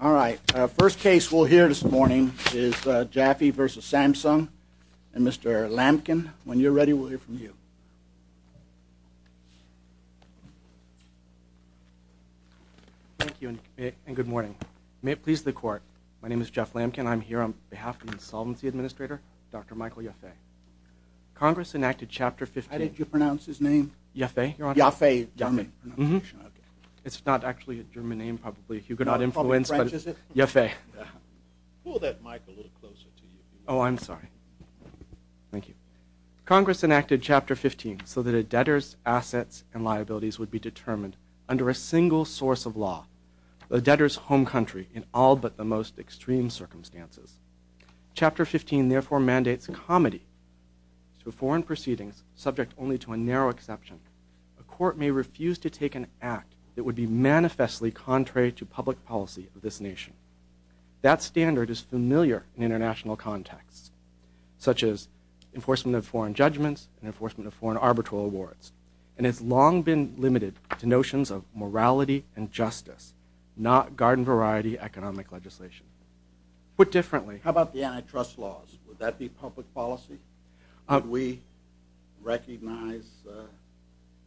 All right. First case we'll hear this morning is Jaffe v. Samsung and Mr. Lampkin. When you're ready, we'll hear from you. Thank you, and good morning. May it please the court, my name is Jeff Lampkin. I'm here on behalf of the Solvency Administrator, Dr. Michael Jaffe. Congress enacted Chapter 15... How did you pronounce his name? Jaffe? Jaffe. It's not actually a German name, probably. You could not influence, but it's Jaffe. Pull that mic a little closer. Oh, I'm sorry. Thank you. Congress enacted Chapter 15 so that a debtor's assets and liabilities would be determined under a single source of law, the debtor's home country, in all but the most extreme circumstances. Chapter 15, therefore, mandates comity. Through foreign proceedings, subject only to a narrow exception, the court may refuse to take an act that would be manifestly contrary to public policy of this nation. That standard is familiar in international contexts, such as enforcement of foreign judgments and enforcement of foreign arbitral awards, and has long been limited to notions of morality and justice, not garden-variety economic legislation. Put differently... How about the antitrust laws? Would that be public policy? Would we recognize the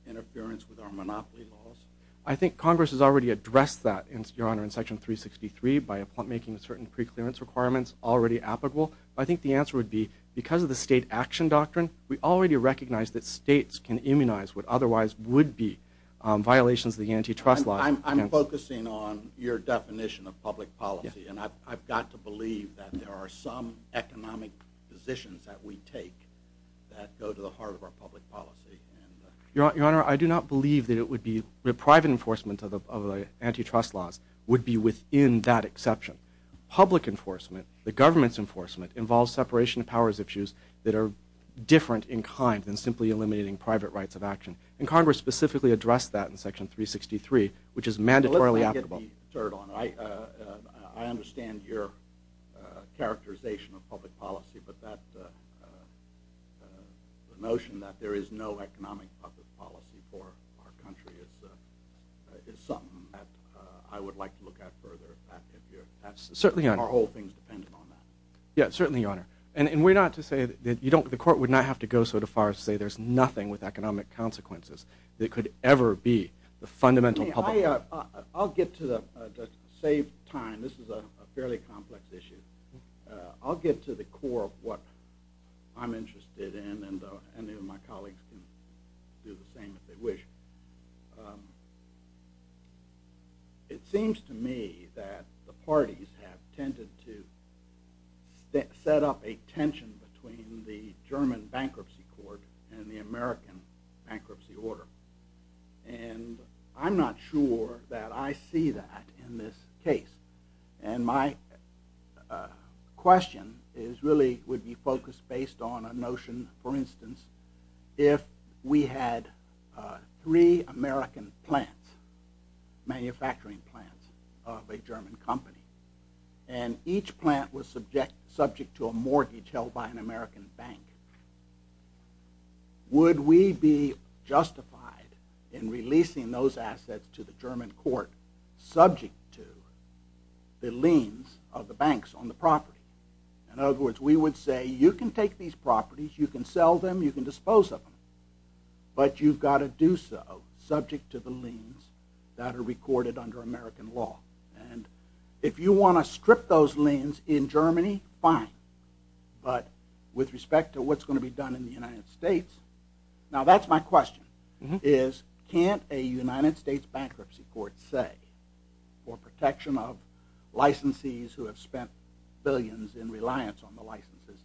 interference with our monopoly laws? I think Congress has already addressed that, Your Honor, in Section 363, by making certain preclearance requirements already applicable. I think the answer would be, because of the state action doctrine, we already recognize that states can immunize what otherwise would be violations of the antitrust laws. I'm focusing on your definition of public policy, and I've got to believe that there are some economic decisions that we take that go to the heart of our public policy. Your Honor, I do not believe that private enforcement of antitrust laws would be within that exception. Public enforcement, the government's enforcement, involves separation of powers issues that are different in kind than simply eliminating private rights of action. And Congress specifically addressed that in Section 363, which is mandatorily applicable. I understand your characterization of public policy, but the notion that there is no economic public policy for our country is something that I would like to look at further. Certainly, Your Honor. Our whole thing depends on that. Yes, certainly, Your Honor. And we're not to say that... that it could ever be the fundamental public policy. I'll get to the, to save time, this is a fairly complex issue. I'll get to the core of what I'm interested in, and then my colleagues can do the same if they wish. It seems to me that the parties have tended to set up a tension between the German bankruptcy court and the American bankruptcy order. And I'm not sure that I see that in this case. And my question is really, would you focus based on a notion, for instance, if we had three American plants, manufacturing plants of a German company, and each plant was subject to a mortgage held by an American bank, would we be justified in releasing those assets to the German court subject to the liens of the banks on the property? In other words, we would say, you can take these properties, you can sell them, you can dispose of them, but you've got to do so subject to the liens that are recorded under American law. And if you want to strip those liens in Germany, fine. But with respect to what's going to be done in the United States, now that's my question, is can't a United States bankruptcy court say for protection of licensees who have spent billions in reliance on the licenses,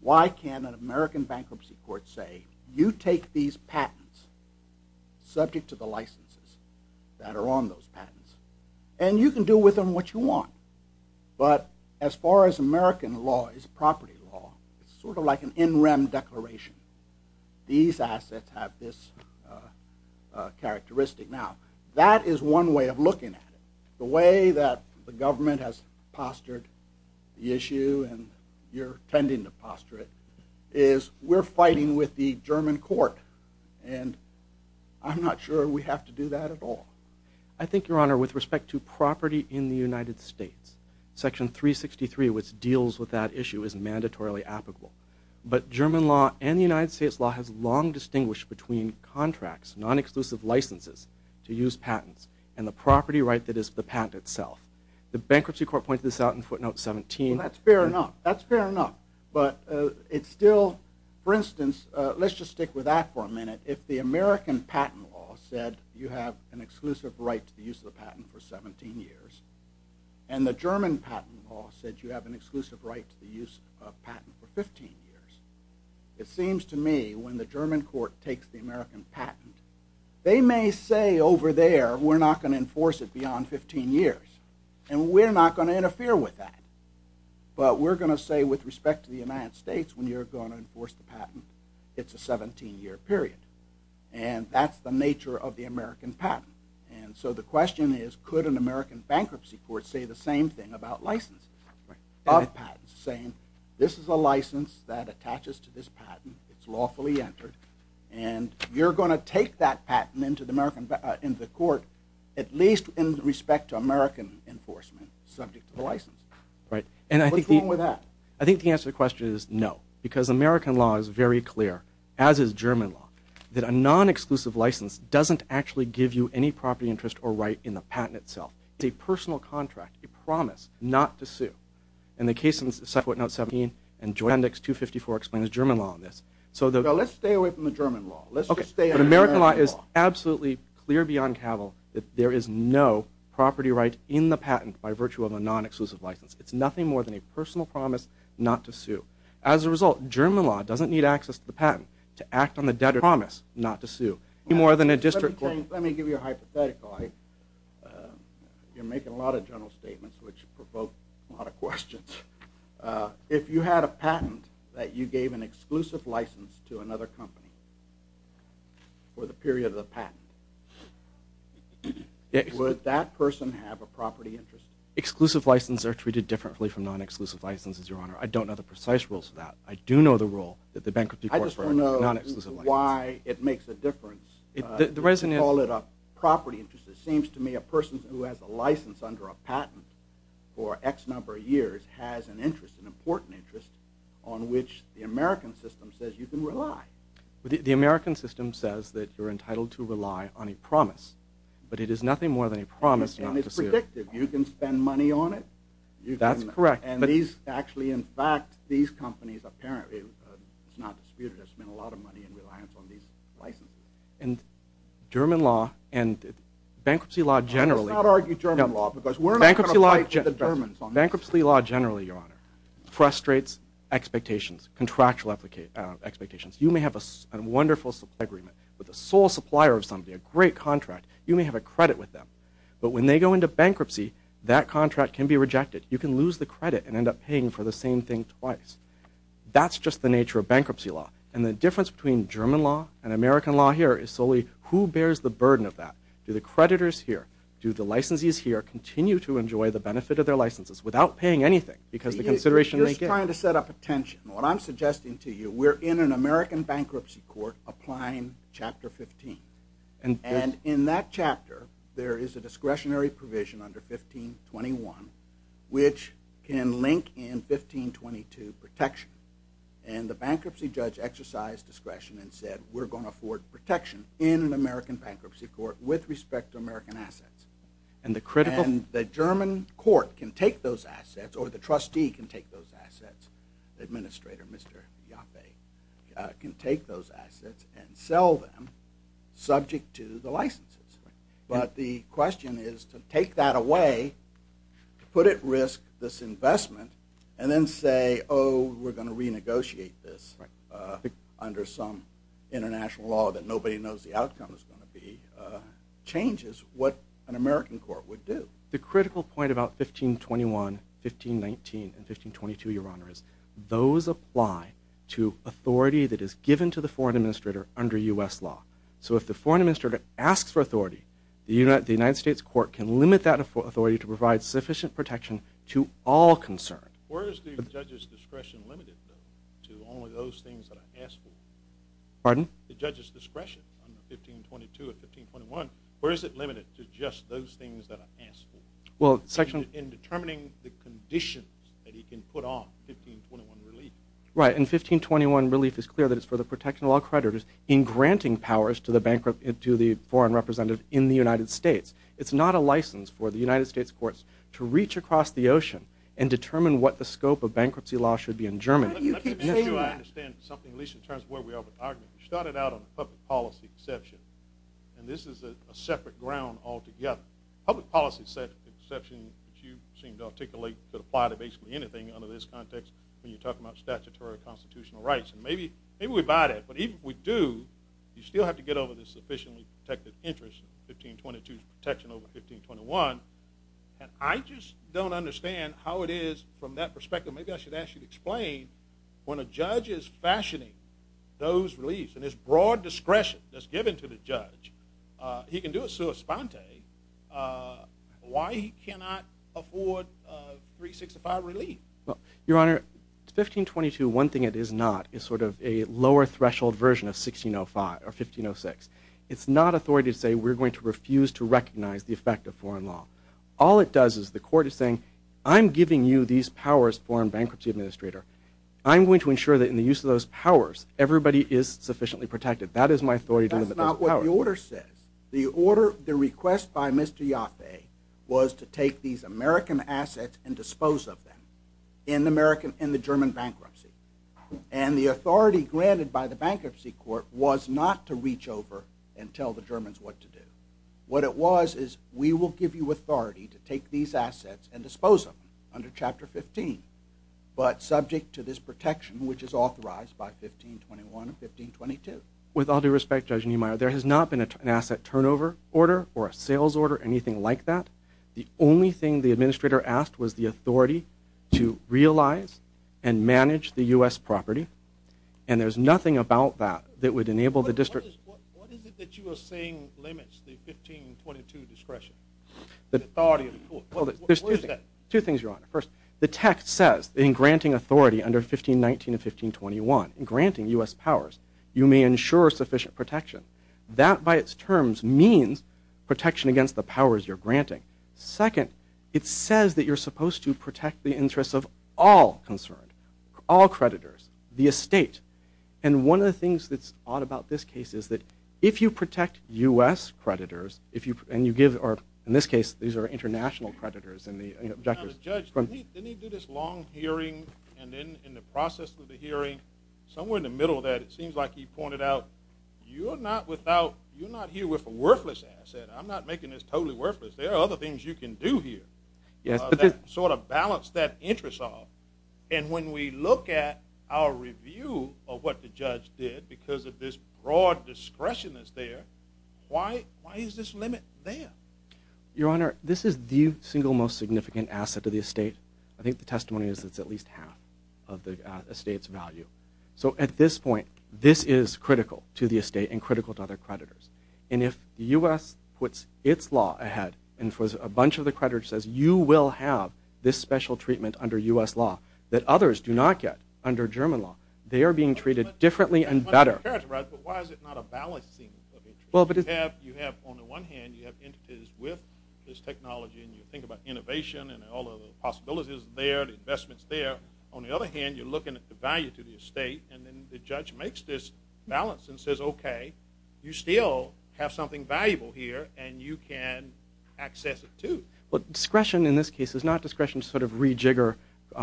why can't an American bankruptcy court say, you take these patents subject to the licenses that are on those patents, and you can do with them what you want. But as far as American law is property law, it's sort of like an NREM declaration. These assets have this characteristic. Now, that is one way of looking at it. The way that the government has postured the issue, and you're tending to posture it, is we're fighting with the German court and I'm not sure we have to do that at all. I think, Your Honor, with respect to property in the United States, Section 363, which deals with that issue, is mandatorily applicable. But German law and the United States law have long distinguished between contracts, non-exclusive licenses to use patents, and the property right that is the patent itself. The bankruptcy court points this out in footnote 17. Well, that's fair enough. That's fair enough. But it's still, for instance, let's just stick with that for a minute. If the American patent law said you have an exclusive right to use the patent for 17 years, and the German patent law said you have an exclusive right to use a patent for 15 years, it seems to me when the German court takes the American patent, they may say over there, we're not going to enforce it beyond 15 years, and we're not going to interfere with that. But we're going to say with respect to the United States, when you're going to enforce the patent, it's a 17-year period. And that's the nature of the American patent. And so the question is, could an American bankruptcy court say the same thing about licenses, about patents, saying this is a license that attaches to this patent, it's lawfully entered, and you're going to take that patent into the court, at least in respect to American enforcement, subject to the license. What's wrong with that? I think the answer to the question is no, because American law is very clear, as is German law, that a non-exclusive license doesn't actually give you any property interest or right in the patent itself. It's a personal contract, a promise not to sue. And the case in Sequitnot 17 and Joannex 254 explains German law on this. So let's stay away from the German law. But American law is absolutely clear beyond cattle that there is no property right in the patent by virtue of a non-exclusive license. It's nothing more than a personal promise not to sue. As a result, German law doesn't need access to the patent to act on the debtor's promise not to sue. Let me give you a hypothetical. You're making a lot of general statements which provoke a lot of questions. If you had a patent that you gave an exclusive license to another company for the period of the patent, would that person have a property interest? Exclusive licenses are treated differently from non-exclusive licenses, Your Honor. I don't know the precise rules for that. I do know the rule that the bankruptcy court for a non-exclusive license... I just don't know why it makes a difference. You call it a property interest. It seems to me a person who has a license under a patent for X number of years has an interest, an important interest, on which the American system says you can rely. The American system says that you're entitled to rely on a promise, but it is nothing more than a promise not to sue. And it's predictive. You can spend money on it. That's correct. Actually, in fact, these companies apparently... It's not weird. There's been a lot of money in reliance on these licenses. And German law and bankruptcy law generally... Let's not argue German law, because we're not going to fight the Germans on this. Bankruptcy law generally, Your Honor, illustrates expectations, contractual expectations. You may have a wonderful agreement with the sole supplier of something, a great contract. You may have a credit with them. But when they go into bankruptcy, that contract can be rejected. You can lose the credit and end up paying for the same thing twice. That's just the nature of bankruptcy law. And the difference between German law and American law here is solely who bears the burden of that. Do the creditors here, do the licensees here continue to enjoy the benefit of their licenses without paying anything? It's trying to set up a tension. What I'm suggesting to you, we're in an American bankruptcy court applying Chapter 15. And in that chapter, there is a discretionary provision under 1521 which can link in 1522 protection. And the bankruptcy judge exercised discretion and said we're going to afford protection in an American bankruptcy court with respect to American assets. And the German court can take those assets or the trustee can take those assets, the administrator, Mr. Yaffe, can take those assets and sell them subject to the licenses. But the question is to take that away, to put at risk this investment and then say, oh, we're going to renegotiate this under some international law that nobody knows the outcome is going to be, changes what an American court would do. The critical point about 1521, 1519, and 1522, Your Honor, is those apply to authority that is given to the foreign administrator under U.S. law. So if the foreign administrator asks for authority, the United States court can limit that authority to provide sufficient protection to all concerned. Where is the judge's discretion limited to all of those things that I asked for? Pardon? The judge's discretion on 1522 and 1521, where is it limited to just those things that I asked for? Well, section... In determining the condition that he can put on 1521 relief. Right, and 1521 relief is clear that it's for the protection of all creditors in granting powers to the foreign representative in the United States. It's not a license for the United States courts to reach across the ocean and determine what the scope of bankruptcy law should be in Germany. Let me tell you, I understand something, at least in terms of where we are, we started out on public policy exception. And this is a separate ground altogether. Public policy exception, if you seem to articulate, could apply to basically anything under this context when you're talking about statutory constitutional rights. And maybe we buy that. But even if we do, you still have to get over the sufficiently protected interest in 1522's protection over 1521. And I just don't understand how it is from that perspective. Maybe I should ask you to explain why, when a judge is fashioning those reliefs and there's broad discretion that's given to the judge, he can do it sua sponte. Why he cannot afford 365 relief? Your Honor, 1522, one thing it is not is sort of a lower threshold version of 1605 or 1506. It's not authority to say we're going to refuse to recognize the effect of foreign law. All it does is the court is saying, I'm giving you these powers as the first foreign bankruptcy administrator. I'm going to ensure that in the use of those powers, everybody is sufficiently protected. That is my authority. That's not what the order says. The order, the request by Mr. Yaffe was to take these American assets and dispose of them in the German bankruptcy. And the authority granted by the bankruptcy court was not to reach over and tell the Germans what to do. What it was is, we will give you authority to take these assets and dispose of them under Chapter 15, but subject to this protection, which is authorized by 1521 or 1522. With all due respect, Judge Niemeyer, there has not been an asset turnover order or a sales order, anything like that. The only thing the administrator asked was the authority to realize and manage the U.S. property, and there's nothing about that that would enable the district... What is it that you are saying limits the 1522 discretion? The authority of the court. Well, there's two things, Your Honor. First, the text says in granting authority under 1519 and 1521, in granting U.S. powers, you may ensure sufficient protection. That by its terms means protection against the powers you're granting. Second, it says that you're supposed to protect the interests of all concerned, all creditors, the estate. And one of the things that's odd about this case is that if you protect U.S. creditors, in this case, these are international creditors. Judge, didn't he do this long hearing and then in the process of the hearing, somewhere in the middle of that, it seems like he pointed out, you're not here with a worthless asset. I'm not making this totally worthless. There are other things you can do here that sort of balance that interest off. And when we look at our review of what the judge did because of this broad discretion that's there, why is this limit there? Your Honor, this is the single most significant asset of the estate. I think the testimony is it's at least half of the estate's value. So at this point, this is critical to the estate and critical to other creditors. And if U.S. puts its law ahead and throws a bunch of the creditors, says you will have this special treatment under U.S. law that others do not get under German law, they are being treated differently and better. But why is it not a valid thing? You have, on the one hand, you have interest with this technology and you think about innovation and all of the possibilities there, the investments there. On the other hand, you're looking at the value to the estate and then the judge makes this balance and says, okay, you still have something valuable here and you can access it too. But discretion in this case is not discretion to sort of rejigger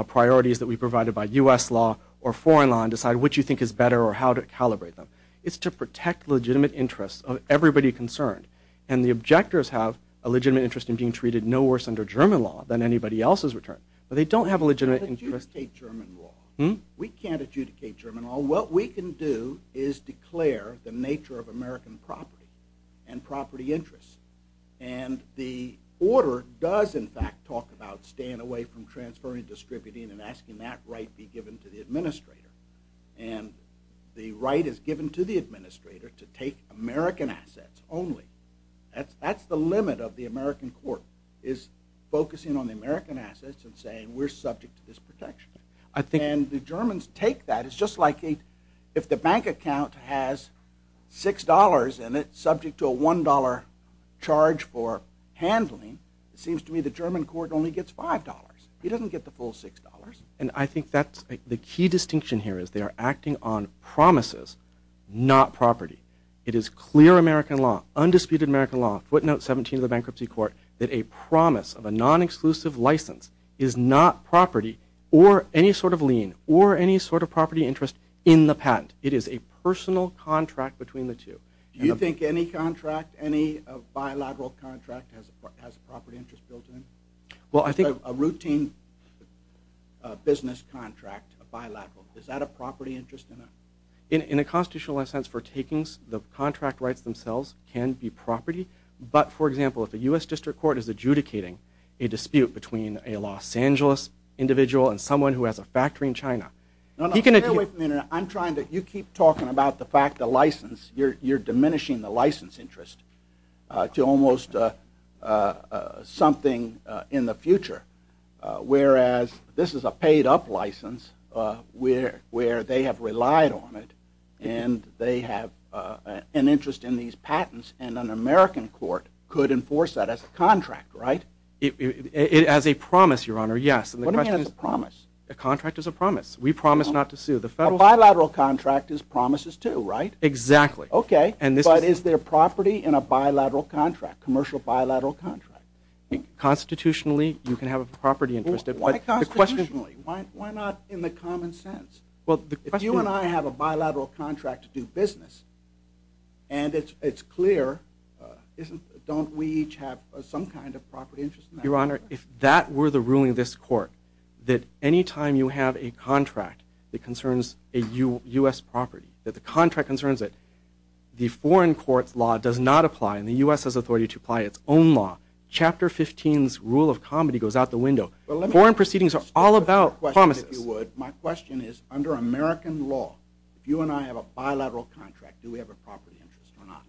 priorities that we provided by U.S. law or foreign law and decide which you think is better or how to calibrate them. It's to protect legitimate interests of everybody concerned. And the objectors have a legitimate interest in being treated no worse under German law than anybody else's return. But they don't have a legitimate interest. We can't adjudicate German law. What we can do is declare the nature of American property And the order does, in fact, talk about staying away from transferring, distributing, and asking that right be given to the administrator. And the right is given to the administrator to take American assets only. That's the limit of the American court, is focusing on the American assets and saying, we're subject to this protection. And the Germans take that. It's just like if the bank account has $6 in it subject to a $1 charge for handling, it seems to me the German court only gets $5. It doesn't get the full $6. And I think that's the key distinction here is they are acting on promises, not property. It is clear American law, undisputed American law, footnote 17 of the bankruptcy court, that a promise of a non-exclusive license is not property or any sort of lien or any sort of property interest in the patent. It is a personal contract between the two. Do you think any contract, any bilateral contract, has a property interest built in? Well, I think... A routine business contract, a bilateral. Is that a property interest in it? In a constitutional sense for takings, the contract rights themselves can be property. But, for example, if the U.S. District Court is adjudicating a dispute between a Los Angeles individual and someone who has a factory in China, you can... I'm trying to... You keep talking about the fact the license, you're diminishing the license interest to almost something in the future, whereas this is a paid-up license where they have relied on it and they have an interest in these patents and an American court could enforce that as a contract, right? As a promise, Your Honor, yes. What do you mean as a promise? The contract is a promise. We promise not to sue the federal... A bilateral contract is promises too, right? Exactly. Okay, but is there property in a bilateral contract, commercial bilateral contract? Constitutionally, you can have a property interest. Why constitutionally? Why not in the common sense? If you and I have a bilateral contract to do business and it's clear, don't we each have some kind of property interest in that? Your Honor, if that were the ruling of this court, that any time you have a contract that concerns a U.S. property, that the contract concerns it, the foreign court law does not apply and the U.S. has authority to apply its own law. Chapter 15's rule of comedy goes out the window. Foreign proceedings are all about promises. My question is, under American law, if you and I have a bilateral contract, do we have a property interest or not?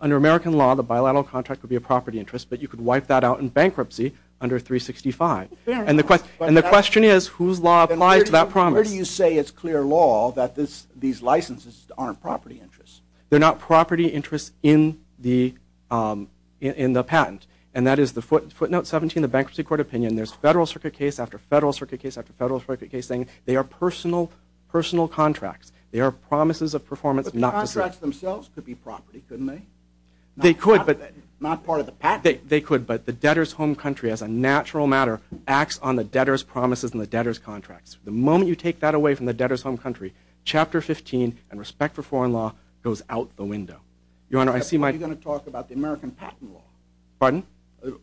Under American law, the bilateral contract would be a property interest, but you could wipe that out in bankruptcy under 365. And the question is, whose law applies to that promise? Where do you say it's clear law that these licenses aren't property interests? They're not property interests in the patent, and that is the footnote 17 of the Bankruptcy Court Opinion. There's federal circuit case after federal circuit case after federal circuit case saying they are personal contracts. They are promises of performance not contracts. But the contracts themselves could be property, couldn't they? They could, but... Not part of the patent. They could, but the debtor's home country, as a natural matter, acts on the debtor's promises and the debtor's contracts. The moment you take that away from the debtor's home country, Chapter 15, in respect to foreign law, goes out the window. Your Honor, I see my... You're going to talk about the American patent law. Pardon?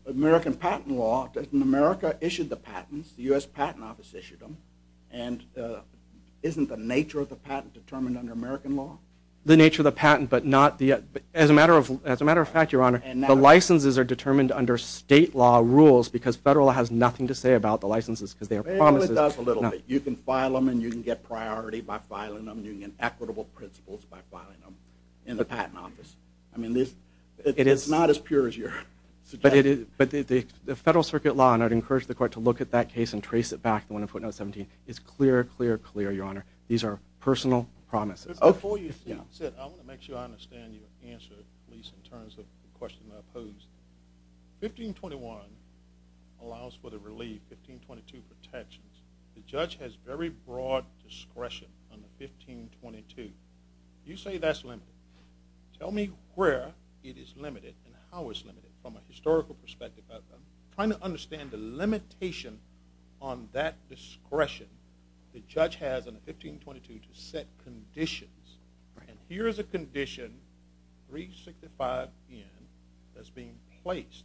American patent law. America issued the patents. The U.S. Patent Office issued them. And isn't the nature of the patent determined under American law? The nature of the patent, but not the... As a matter of fact, Your Honor, the licenses are determined under state law rules because federal has nothing to say about the licenses to their promises. It does a little bit. You can file them, and you can get priority by filing them. You can get equitable principles by filing them in the patent office. I mean, it's not as pure as you're suggesting. But the federal circuit law, and I'd encourage the court to look at that case and trace it back, and want to put it on 17. It's clear, clear, clear, Your Honor. These are personal promises. Before you sit, I want to make sure I understand your answer, at least in terms of the question I posed. 1521 allows for the relief. 1522 protects. The judge has very broad discretion on 1522. You say that's limited. Tell me where it is limited and how it's limited from a historical perspective. I'm trying to understand the limitation on that discretion the judge has on 1522 to set conditions. And here is a condition, 365N, that's being placed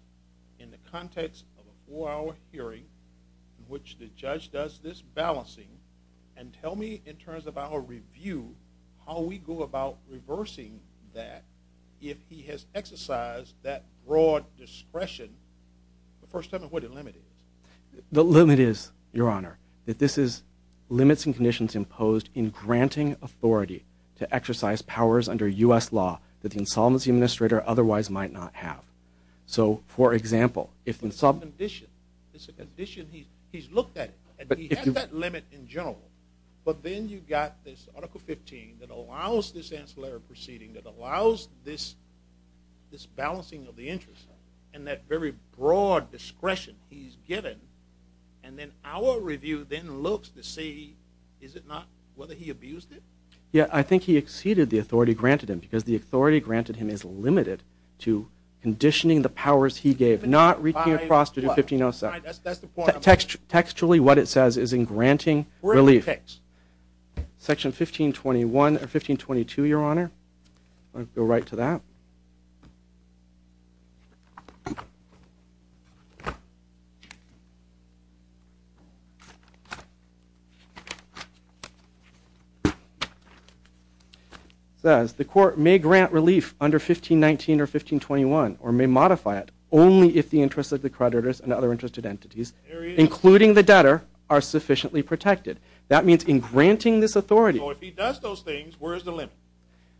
in the context of a four-hour hearing in which the judge does this balancing. And tell me, in terms of our review, how we go about reversing that if he has exercised that broad discretion for some of what it limited. The limit is, Your Honor, that this limits conditions imposed in granting authority to exercise powers under U.S. law that an insolvency administrator otherwise might not have. So, for example, if an insolvent... It's a condition. It's a condition he's looked at, and he has that limit in general. But then you've got this Article 15 that allows this ancillary proceeding, that allows this balancing of the interests, and that very broad discretion he's given, and then our review then looks to see, is it not, whether he abused it? Yeah, I think he exceeded the authority granted him because the authority granted him is limited to conditioning the powers he gave, not reaching across to do 1507. Textually, what it says is in granting relief. Section 1521 or 1522, Your Honor. Let's go right to that. It says, the court may grant relief under 1519 or 1521 or may modify it only if the interests of the creditors and other interested entities, including the debtor, are sufficiently protected. That means in granting this authority... So if he does those things, where is the limit?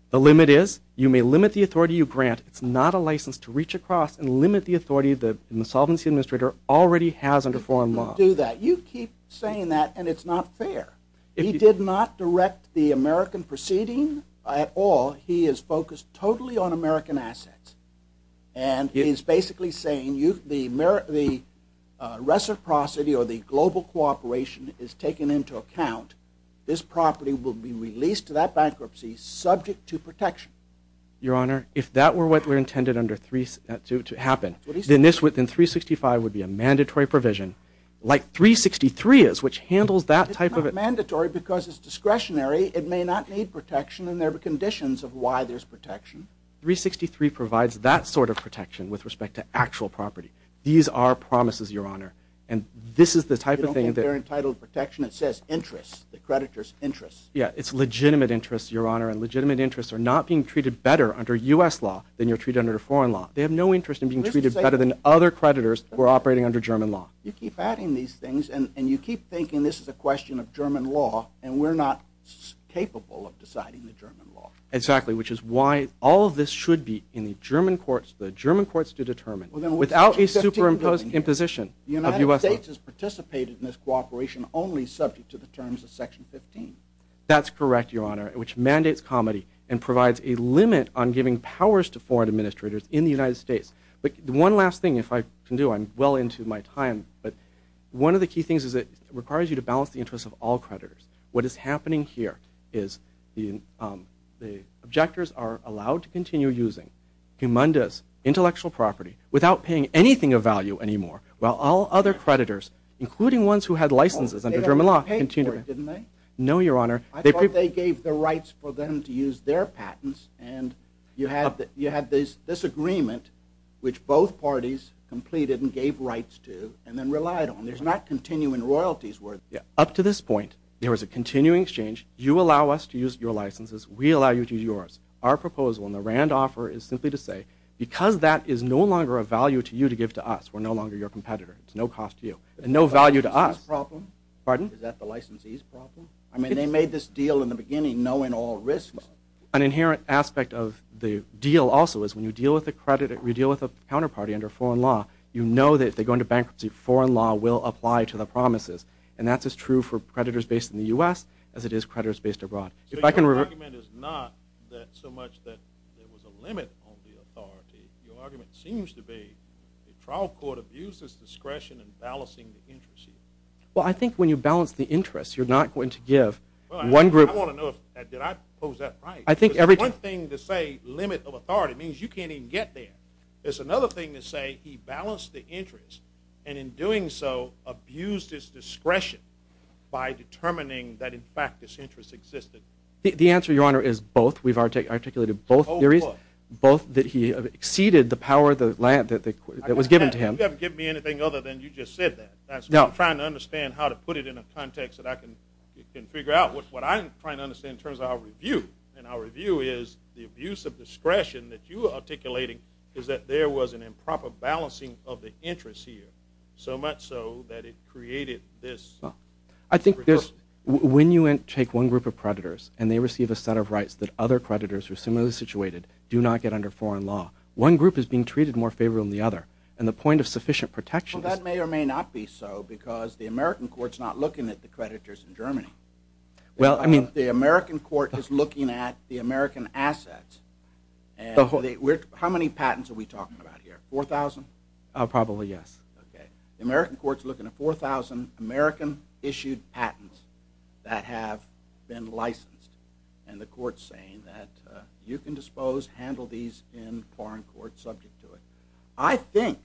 The limit is, you may limit the authority you grant. It's not a license to reach across and limit the authority that an insolvency administrator already has under foreign law. You keep saying that, and it's not fair. He did not direct the American proceeding at all. He is focused totally on American assets, and he's basically saying the reciprocity or the global cooperation is taken into account. This property will be released to that bankruptcy subject to protection. Your Honor, if that were what were intended to happen, then this within 365 would be a mandatory provision, like 363 is, which handles that type of... It's not mandatory because it's discretionary. It may not need protection, and there are conditions of why there's protection. 363 provides that sort of protection with respect to actual property. These are promises, Your Honor, and this is the type of thing... They're entitled protection. It says interests, the creditors' interests. Yeah, it's legitimate interests, Your Honor, and legitimate interests are not being treated better under U.S. law than you're treated under foreign law. They have no interest in being treated better than other creditors who are operating under German law. You keep adding these things, and you keep thinking this is a question of German law, and we're not capable of deciding the German law. Exactly, which is why all of this should be in the German courts to determine, without a superimposed imposition of U.S. law. The United States has participated in this cooperation only subject to the terms of Section 15. That's correct, Your Honor, which mandates comedy and provides a limit on giving powers to foreign administrators in the United States. One last thing, if I can do, I'm well into my time, but one of the key things is it requires you to balance the interests of all creditors. What is happening here is the objectors are allowed to continue using humundous intellectual property without paying anything of value anymore, while all other creditors, including ones who had licenses under German law... No, Your Honor. I thought they gave the rights for them to use their patents, and you have this agreement which both parties completed and gave rights to and then relied on. There's not continuing royalties worth it. Up to this point, there was a continuing exchange. You allow us to use your licenses. We allow you to use yours. Our proposal in the Rand offer is simply to say because that is no longer a value to you to give to us, we're no longer your competitor. It's no cost to you and no value to us. Is that the problem? Pardon? I mean, they made this deal in the beginning knowing all risks. An inherent aspect of the deal also is when you deal with a counterparty under foreign law, you know that if they go into bankruptcy, foreign law will apply to the promises, and that's as true for creditors based in the U.S. as it is creditors based abroad. So your argument is not so much that there was a limit on the authority. Your argument seems to be the trial court abuses discretion in balancing the interests. Well, I think when you balance the interests, you're not going to give one group... I want to know if I posed that right. One thing to say limit of authority means you can't even get there. There's another thing to say he balanced the interests and in doing so abused his discretion by determining that in fact this interest existed. The answer, Your Honor, is both. We've articulated both theories. Both that he exceeded the power that was given to him. You haven't given me anything other than you just said that. I'm trying to understand how to put it in a context that I can figure out what I'm trying to understand in terms of our review, and our review is the abuse of discretion that you are articulating is that there was an improper balancing of the interests here, so much so that it created this... I think when you take one group of creditors and they receive a set of rights that other creditors who are similarly situated do not get under foreign law, one group is being treated more favorably than the other, and the point of sufficient protection... Well, that may or may not be so because the American court's not looking at the creditors in Germany. Well, I mean, the American court is looking at the American assets. How many patents are we talking about here? 4,000? Probably, yes. Okay. The American court's looking at 4,000 American-issued patents that have been licensed, and the court's saying that you can dispose, handle these in foreign court subject to it. I think,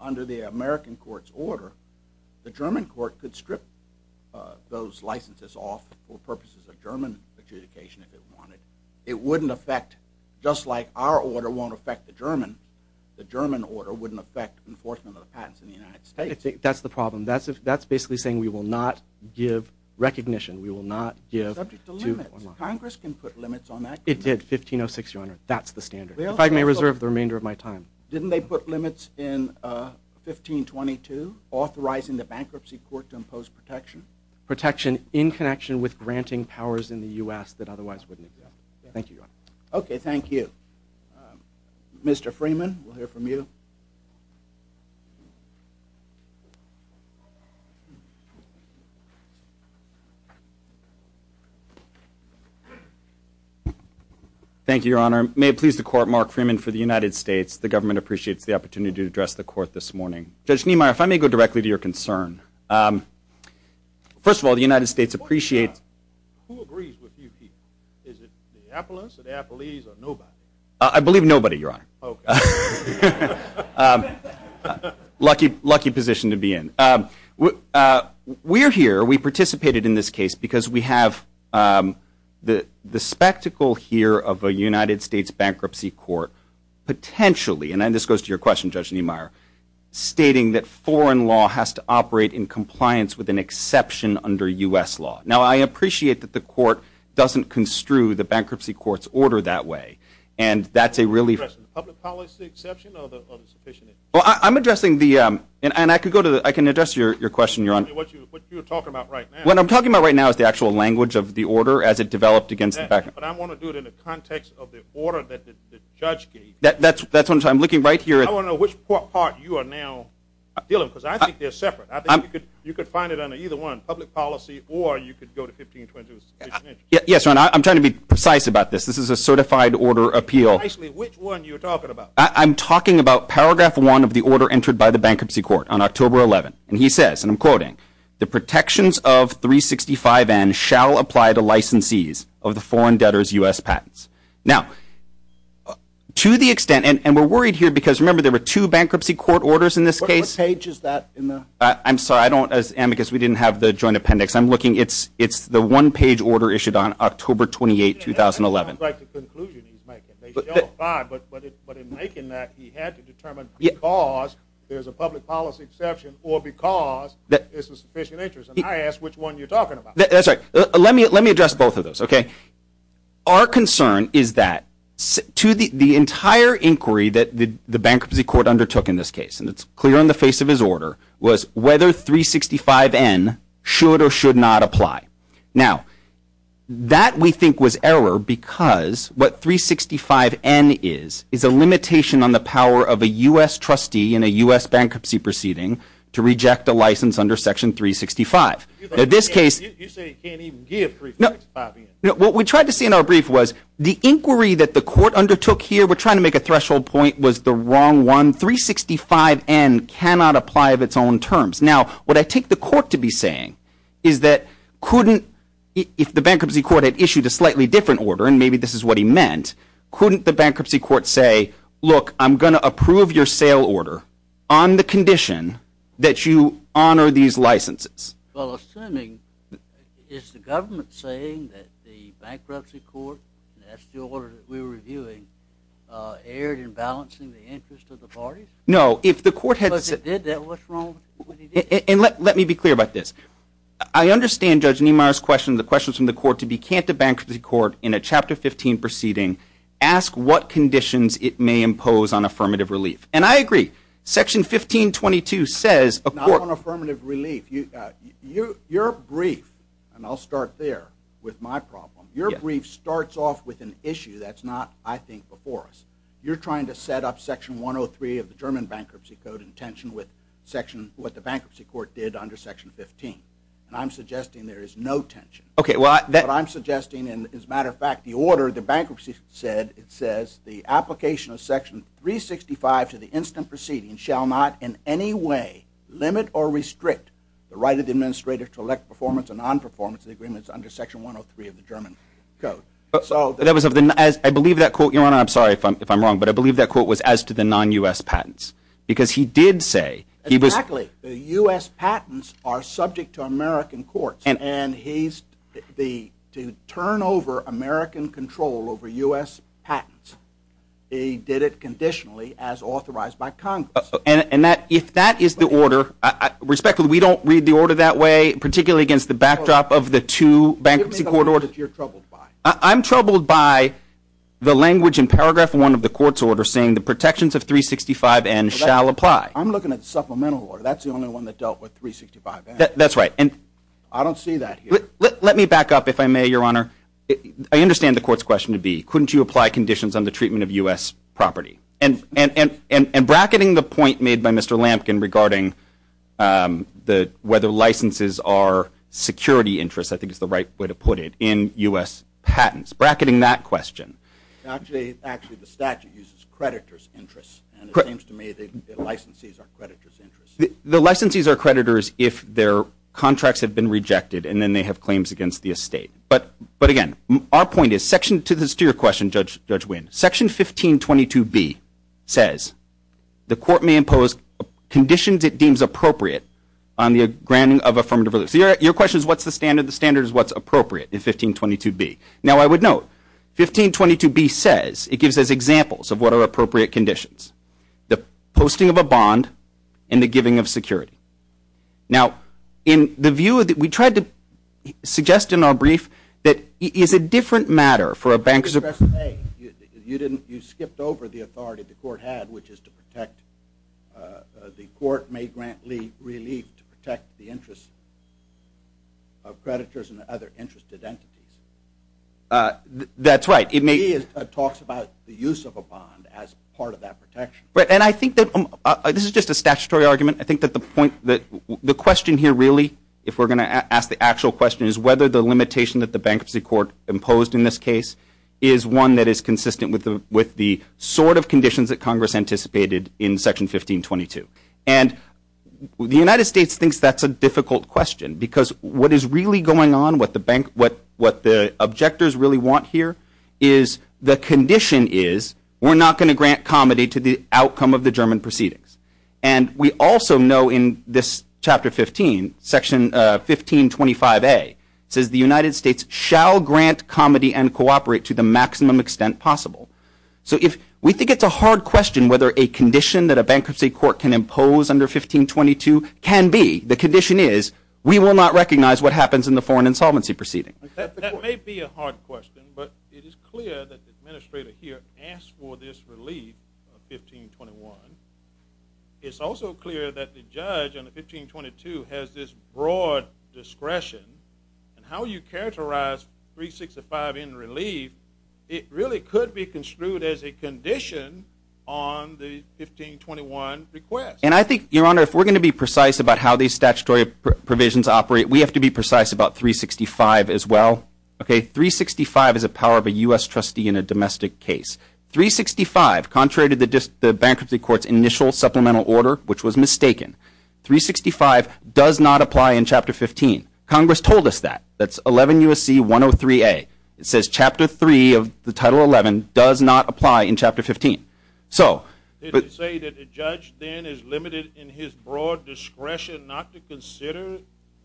under the American court's order, the German court could strip those licenses off for purposes of German adjudication if it wanted. It wouldn't affect... Just like our order won't affect the German, the German order wouldn't affect enforcement of the patents in the United States. That's the problem. That's basically saying we will not give recognition. We will not give... Subject to limits. Congress can put limits on that. It did, 1506, Your Honor. That's the standard. If I may reserve the remainder of my time. Didn't they put limits in 1522, authorizing the bankruptcy court to impose protection? Protection in connection with granting powers in the U.S. that otherwise wouldn't exist. Thank you, Your Honor. Okay, thank you. Mr. Freeman, we'll hear from you. Thank you, Your Honor. May it please the court, Mark Freeman for the United States. The government appreciates the opportunity to address the court this morning. Judge Niemeyer, if I may go directly to your concern. First of all, the United States appreciates... Who agrees with you, Keith? Is it Minneapolis or the Appalachians or nobody? I believe nobody, Your Honor. Okay. Lucky position to be in. We're here, we participated in this case because we have the spectacle here of a United States bankruptcy court potentially, and this goes to your question, Judge Niemeyer, stating that foreign law has to operate in compliance with an exception under U.S. law. Now, I appreciate that the court doesn't construe the bankruptcy court's order that way. And that's a really... Public policy exception or the sufficient... Well, I'm addressing the... And I can address your question, Your Honor. What you're talking about right now. What I'm talking about right now is the actual language of the order as it developed against the bankruptcy court. But I want to do it in the context of the order that the judge gave. That's what I'm talking about. I'm looking right here at... I want to know which part you are now dealing with because I think they're separate. I think you could find it under either one, public policy, or you could go to 1520. Yes, Your Honor. I'm trying to be precise about this. This is a certified order appeal. Precisely which one you're talking about. I'm talking about paragraph one of the order entered by the bankruptcy court on October 11th. And he says, and I'm quoting, the protections of 365N shall apply to licensees of the foreign debtors' U.S. patents. Now, to the extent... And we're worried here because, remember, there were two bankruptcy court orders in this case. What page is that in the... I'm sorry. I don't... Amicus, we didn't have the joint appendix. I'm looking. It's the one-page order issued on October 28th, 2011. That sounds like the conclusion he's making. They shall apply, but in making that, he had to determine because there's a public policy exception or because there's a sufficient interest. And I ask which one you're talking about. That's right. Let me address both of those, okay? Our concern is that the entire inquiry that the bankruptcy court undertook in this case, and it's clear in the face of his order, was whether 365N should or should not apply. Now, that we think was error because what 365N is is a limitation on the power of a U.S. trustee in a U.S. bankruptcy proceeding to reject a license under Section 365. In this case... You say you can't even give 365N. What we tried to say in our brief was the inquiry that the court undertook here, we're trying to make a threshold point, was the wrong one. 365N cannot apply of its own terms. Now, what I take the court to be saying is that couldn't... If the bankruptcy court had issued a slightly different order, and maybe this is what he meant, couldn't the bankruptcy court say, look, I'm going to approve your sale order on the condition that you honor these licenses? Well, assuming, is the government saying that the bankruptcy court, and that's the order that we're reviewing, erred in balancing the interests of the parties? No, if the court had... Because it did that, what's wrong with it? And let me be clear about this. I understand Judge Niemeyer's question, the questions from the court, to be, can't the bankruptcy court, in a Chapter 15 proceeding, ask what conditions it may impose on affirmative relief? And I agree. Section 1522 says... Not on affirmative relief. Your brief, and I'll start there with my problem, your brief starts off with an issue that's not, I think, before us. You're trying to set up Section 103 of the German Bankruptcy Code in tension with what the bankruptcy court did under Section 15. And I'm suggesting there is no tension. Okay, well... What I'm suggesting, and as a matter of fact, the order, the bankruptcy said, it says, the application of Section 365 to the instant proceeding shall not in any way limit or restrict the right of the administrator to elect performance or non-performance of the agreements under Section 103 of the German Code. I believe that quote, Your Honor, I'm sorry if I'm wrong, but I believe that quote was as to the non-U.S. patents. Because he did say... Exactly, the U.S. patents are subject to American courts, and to turn over American control over U.S. patents, he did it conditionally as authorized by Congress. And if that is the order, respectfully, we don't read the order that way, particularly against the backdrop of the two bankruptcy court orders. Give me the one that you're troubled by. I'm troubled by the language in paragraph one of the court's order saying the protections of 365N shall apply. I'm looking at the supplemental order. That's the only one that dealt with 365N. That's right. I don't see that here. Let me back up, if I may, Your Honor. I understand the court's question to be, couldn't you apply conditions on the treatment of U.S. property? And bracketing the point made by Mr. Lampkin regarding whether licenses are security interests, I think is the right way to put it, in U.S. patents. Bracketing that question. Actually, the statute uses creditors' interests, and it seems to me the licensees are creditors' interests. The licensees are creditors if their contracts have been rejected and then they have claims against the estate. But, again, our point is section 1522B says, the court may impose conditions it deems appropriate on the granting of affirmative orders. So your question is what's the standard? The standard is what's appropriate in 1522B. Now, I would note 1522B says it gives us examples of what are appropriate conditions. The posting of a bond and the giving of security. Now, we tried to suggest in our brief that it's a different matter for a bank. You skipped over the authority the court had, which is to protect the court may grant relief to protect the interests of creditors and other interested entities. That's right. It talks about the use of a bond as part of that protection. And I think that this is just a statutory argument. I think that the question here really, if we're going to ask the actual question, is whether the limitation that the bankruptcy court imposed in this case is one that is consistent with the sort of conditions that Congress anticipated in section 1522. And the United States thinks that's a difficult question because what is really going on, what the objectors really want here, is the condition is we're not going to grant comedy to the outcome of the German proceedings. And we also know in this chapter 15, section 1525A, says the United States shall grant comedy and cooperate to the maximum extent possible. So we think it's a hard question whether a condition that a bankruptcy court can impose under 1522 can be. The condition is we will not recognize what happens in the foreign insolvency proceeding. That may be a hard question, but it is clear that the administrator here asked for this relief of 1521. It's also clear that the judge under 1522 has this broad discretion. And how you characterize 365 in relief, it really could be construed as a condition on the 1521 request. And I think, Your Honor, if we're going to be precise about how these statutory provisions operate, we have to be precise about 365 as well. Okay, 365 is a power of a U.S. trustee in a domestic case. 365, contrary to the bankruptcy court's initial supplemental order, which was mistaken, 365 does not apply in Chapter 15. Congress told us that. That's 11 U.S.C. 103A. It says Chapter 3 of the Title 11 does not apply in Chapter 15. So... They say that the judge then is limited in his broad discretion not to consider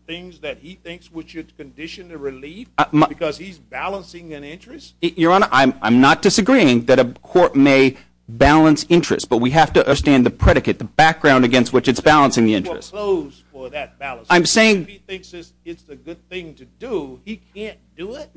things that he thinks would condition the relief because he's balancing an interest? Your Honor, I'm not disagreeing that a court may balance interests, but we have to understand the predicate, the background against which it's balancing the interest. He's opposed to that balance. If he thinks it's a good thing to do, he can't do it?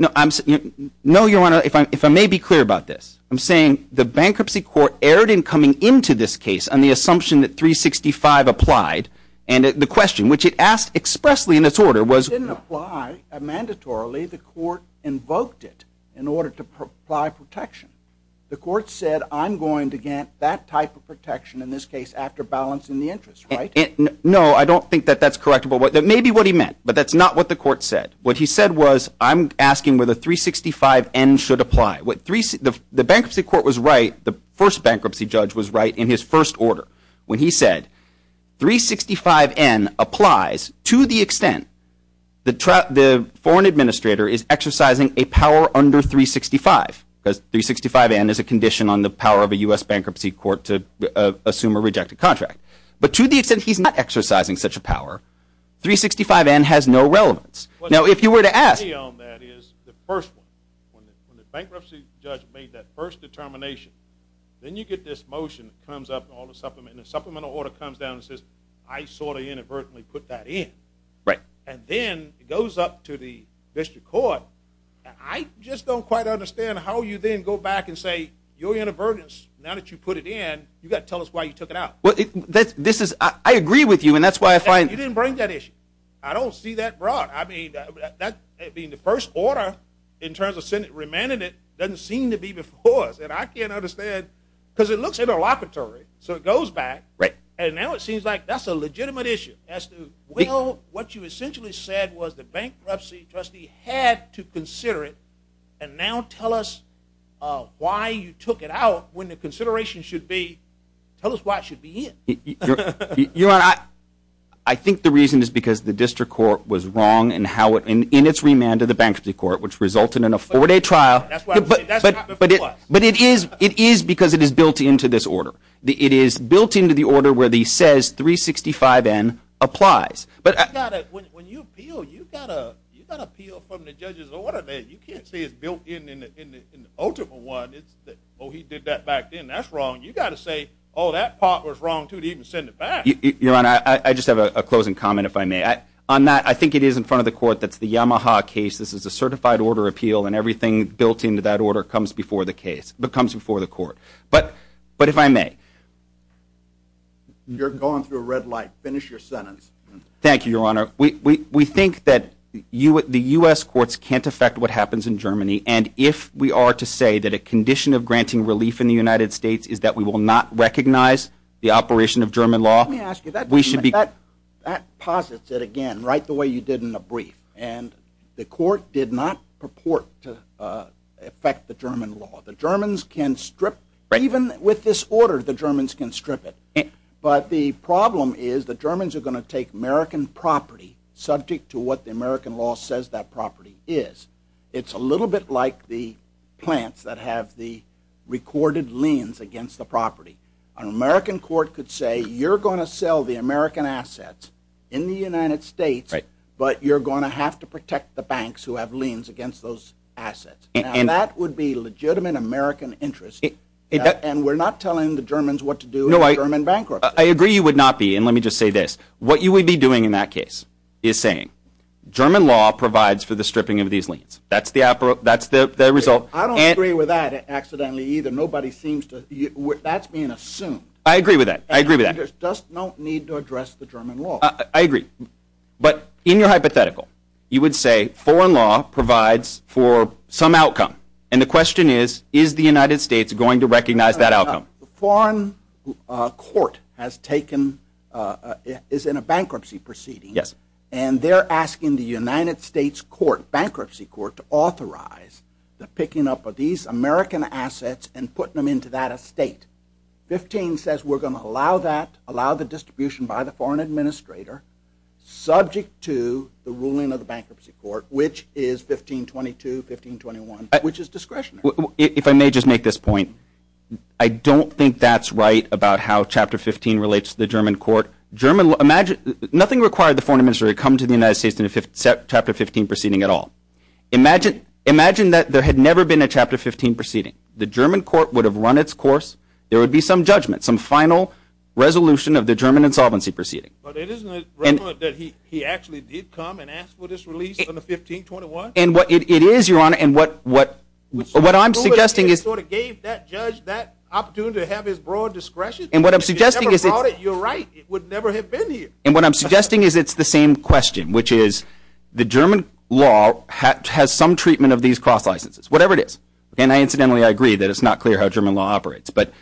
No, Your Honor, if I may be clear about this, I'm saying the bankruptcy court erred in coming into this case on the assumption that 365 applied, and the question, which it asked expressly in its order, was... It didn't apply mandatorily. The court invoked it in order to apply protection. The court said, I'm going to get that type of protection in this case after balancing the interest, right? No, I don't think that that's correct. That may be what he meant, but that's not what the court said. What he said was, I'm asking whether 365N should apply. The bankruptcy court was right, the first bankruptcy judge was right in his first order when he said, 365N applies to the extent the foreign administrator is exercising a power under 365, because 365N is a condition on the power of a U.S. bankruptcy court to assume a rejected contract. But to the extent he's not exercising such a power, 365N has no relevance. Now, if you were to ask... The key on that is the first one. When the bankruptcy judge made that first determination, then you get this motion that comes up, and the supplemental order comes down and says, I sort of inadvertently put that in. And then it goes up to the district court. I just don't quite understand how you then go back and say, your inadvertence, now that you put it in, you've got to tell us why you took it out. I agree with you, and that's why I find... You didn't bring that issue. I don't see that brought. I mean, the first order, in terms of remanded it, doesn't seem to be the cause. And I can't understand, because it looks interlocutory. So it goes back, and now it seems like that's a legitimate issue. What you essentially said was the bankruptcy trustee had to consider it, and now tell us why you took it out when the consideration should be... Tell us why it should be in. Your Honor, I think the reason is because the district court was wrong in its remand of the bankruptcy court, which resulted in a 4-day trial. But it is because it is built into this order. It is built into the order where it says 365N applies. When you appeal, you've got to appeal from the judge's order. You can't say it's built in in the ultimate one. Oh, he did that back then. That's wrong. You've got to say, oh, that part was wrong, too, to even send it back. Your Honor, I just have a closing comment, if I may. On that, I think it is in front of the court that the Yamaha case, this is a certified order appeal, and everything built into that order comes before the court. But if I may... You're going through a red light. Finish your sentence. Thank you, Your Honor. We think that the U.S. courts can't affect what happens in Germany, and if we are to say that a condition of granting relief in the United States is that we will not recognize the operation of German law... Let me ask you, that posits it again, right the way you did in the brief. And the court did not purport to affect the German law. The Germans can strip. Even with this order, the Germans can strip it. But the problem is the Germans are going to take American property subject to what the American law says that property is. It's a little bit like the plants that have the recorded liens against the property. An American court could say you're going to sell the American assets in the United States, but you're going to have to protect the banks who have liens against those assets. And that would be legitimate American interest, and we're not telling the Germans what to do in a German bankruptcy. I agree you would not be, and let me just say this. What you would be doing in that case is saying, German law provides for the stripping of these liens. That's the result. I don't agree with that accidentally either. Nobody seems to... That's being assumed. I agree with that. I agree with that. You just don't need to address the German law. I agree. But in your hypothetical, you would say foreign law provides for some outcome. And the question is, is the United States going to recognize that outcome? A foreign court has taken... is in a bankruptcy proceeding. Yes. And they're asking the United States court, bankruptcy court, to authorize the picking up of these American assets and putting them into that estate. 15 says we're going to allow that, allow the distribution by the foreign administrator, subject to the ruling of the bankruptcy court, which is 1522, 1521, which is discretionary. If I may just make this point, I don't think that's right about how Chapter 15 relates to the German court. German... imagine... nothing required the foreign administrator to come to the United States in a Chapter 15 proceeding at all. Imagine that there had never been a Chapter 15 proceeding. The German court would have run its course. There would be some judgment, some final resolution of the German insolvency proceeding. But isn't it relevant that he actually did come and ask for this release on the 1521? And what it is, Your Honor, and what I'm suggesting is... He sort of gave that judge that opportunity to have his broad discretion. And what I'm suggesting is... If he never brought it, you're right, it would never have been here. And what I'm suggesting is it's the same question, which is the German law has some treatment of these cross licenses, whatever it is. And incidentally, I agree that it's not clear how German law operates. But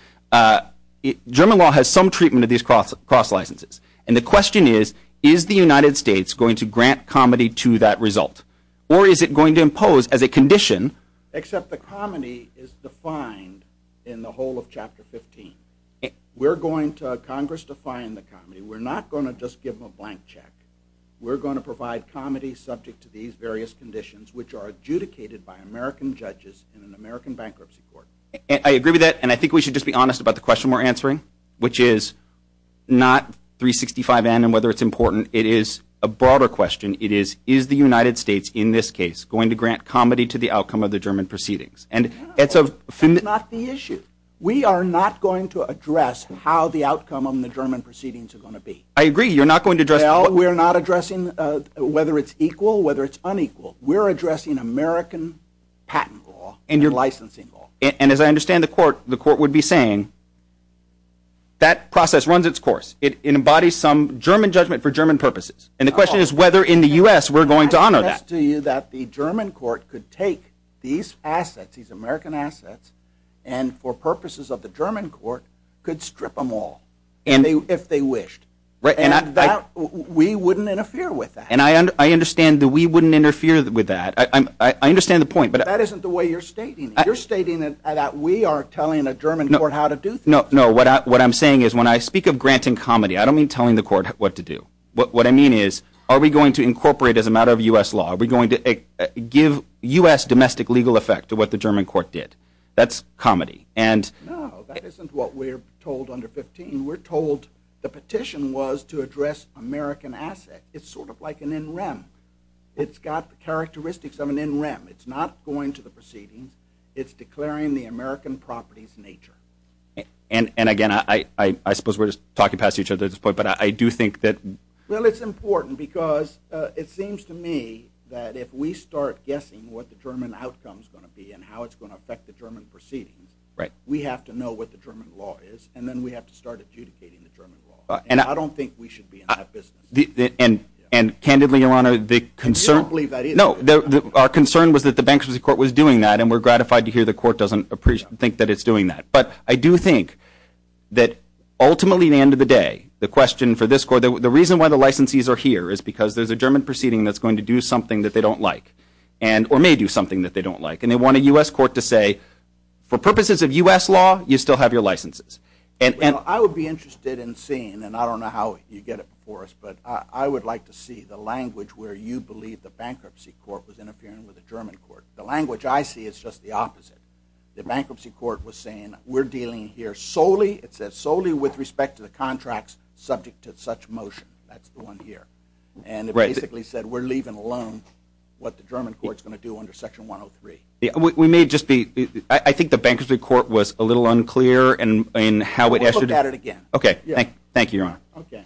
German law has some treatment of these cross licenses. And the question is, is the United States going to grant comity to that result? Or is it going to impose as a condition... Except the comity is defined in the whole of Chapter 15. We're going to... Congress defined the comity. We're not going to just give them a blank check. We're going to provide comity subject to these various conditions, which are adjudicated by American judges in an American bankruptcy court. I agree with that. And I think we should just be honest about the question we're answering, which is not 365N and whether it's important. It is a broader question. It is, is the United States, in this case, going to grant comity to the outcome of the German proceedings? And that's a... That's not the issue. We are not going to address how the outcome of the German proceedings are going to be. I agree. You're not going to address... No, we're not addressing whether it's equal, whether it's unequal. We're addressing American patent law and your licensing law. And as I understand the court, the court would be saying that process runs its course. It embodies some German judgment for German purposes. And the question is whether in the US we're going to honor that. The question is to you that the German court could take these assets, these American assets, and for purposes of the German court could strip them all if they wished. And we wouldn't interfere with that. And I understand that we wouldn't interfere with that. I understand the point, but... That isn't the way you're stating it. You're stating that we are telling the German court how to do things. No, what I'm saying is when I speak of granting comity, I don't mean telling the court what to do. What I mean is are we going to incorporate as a matter of US law? Are we going to give US domestic legal effect to what the German court did? That's comity. No, that isn't what we're told under 15. We're told the petition was to address American assets. It's sort of like an NREM. It's got the characteristics of an NREM. It's not going to the proceedings. It's declaring the American property's nature. And, again, I suppose we're just talking past each other at this point, but I do think that... Well, it's important because it seems to me that if we start guessing what the German outcome is going to be and how it's going to affect the German proceedings, we have to know what the German law is, and then we have to start adjudicating the German law. And I don't think we should be in that position. And, candidly, Your Honor, the concern... We don't believe that either. No, our concern was that the bankruptcy court was doing that, and we're gratified to hear the court doesn't think that it's doing that. But I do think that, ultimately, at the end of the day, the question for this court, the reason why the licensees are here is because there's a German proceeding that's going to do something that they don't like, or may do something that they don't like. And they want a US court to say, for purposes of US law, you still have your licenses. I would be interested in seeing, and I don't know how you get it before us, but I would like to see the language where you believe the bankruptcy court was interfering with the German court. The language I see is just the opposite. The bankruptcy court was saying, we're dealing here solely, it says, solely with respect to the contracts subject to such motion. That's the one here. And it basically said, we're leaving alone what the German court's going to do under Section 103. We may just be – I think the bankruptcy court was a little unclear in how it – We'll look at it again. Okay. Thank you, Your Honor. Okay.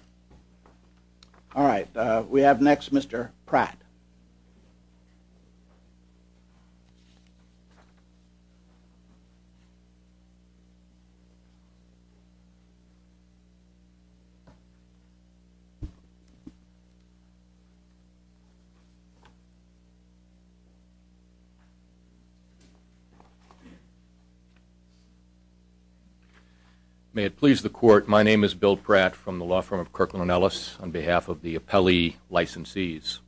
May it please the court, my name is Bill Pratt from the law firm of Kirkland & Ellis on behalf of the appellee licensees.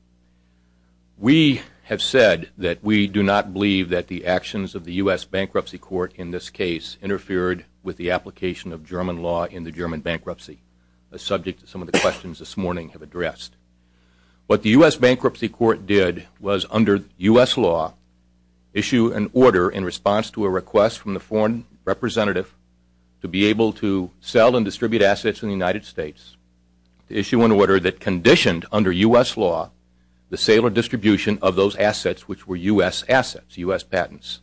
We have said that we do not believe that the actions of the US bankruptcy court in this case interfered with the application of German law in the German bankruptcy, a subject that some of the questions this morning have addressed. What the US bankruptcy court did was, under US law, issue an order in response to a request from the foreign representative to be able to sell and distribute assets in the United States, issue an order that conditioned, under US law, the sale or distribution of those assets which were US assets, US patents.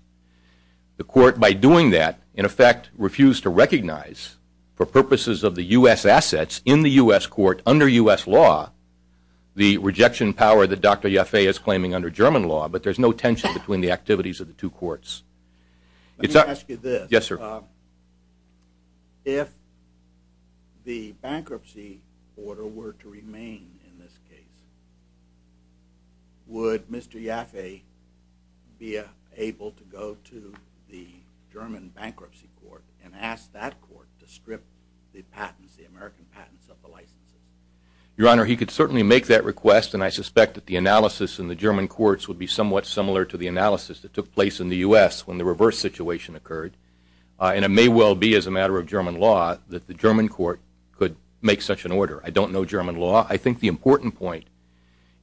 The court, by doing that, in effect refused to recognize, for purposes of the US assets in the US court under US law, the rejection power that Dr. Yaffe is claiming under German law, but there's no tension between the activities of the two courts. Let me ask you this. Yes, sir. If the bankruptcy order were to remain in this case, would Mr. Yaffe be able to go to the German bankruptcy court and ask that court to strip the patents, the American patents of the licenses? Your Honor, he could certainly make that request, and I suspect that the analysis in the German courts would be somewhat similar to the analysis that took place in the US when the reverse situation occurred, and it may well be, as a matter of German law, that the German court could make such an order. I don't know German law. I think the important point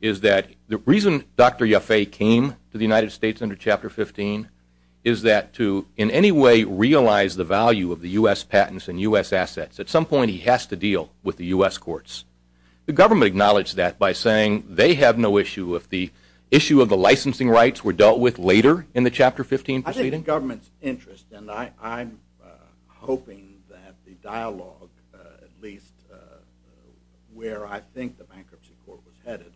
is that the reason Dr. Yaffe came to the United States under Chapter 15 is that to, in any way, realize the value of the US patents and US assets, at some point he has to deal with the US courts. The government acknowledged that by saying they have no issue with the issue of the licensing rights were dealt with later in the Chapter 15 proceeding? I think the government's interest, and I'm hoping that the dialogue, at least where I think the bankruptcy court was headed,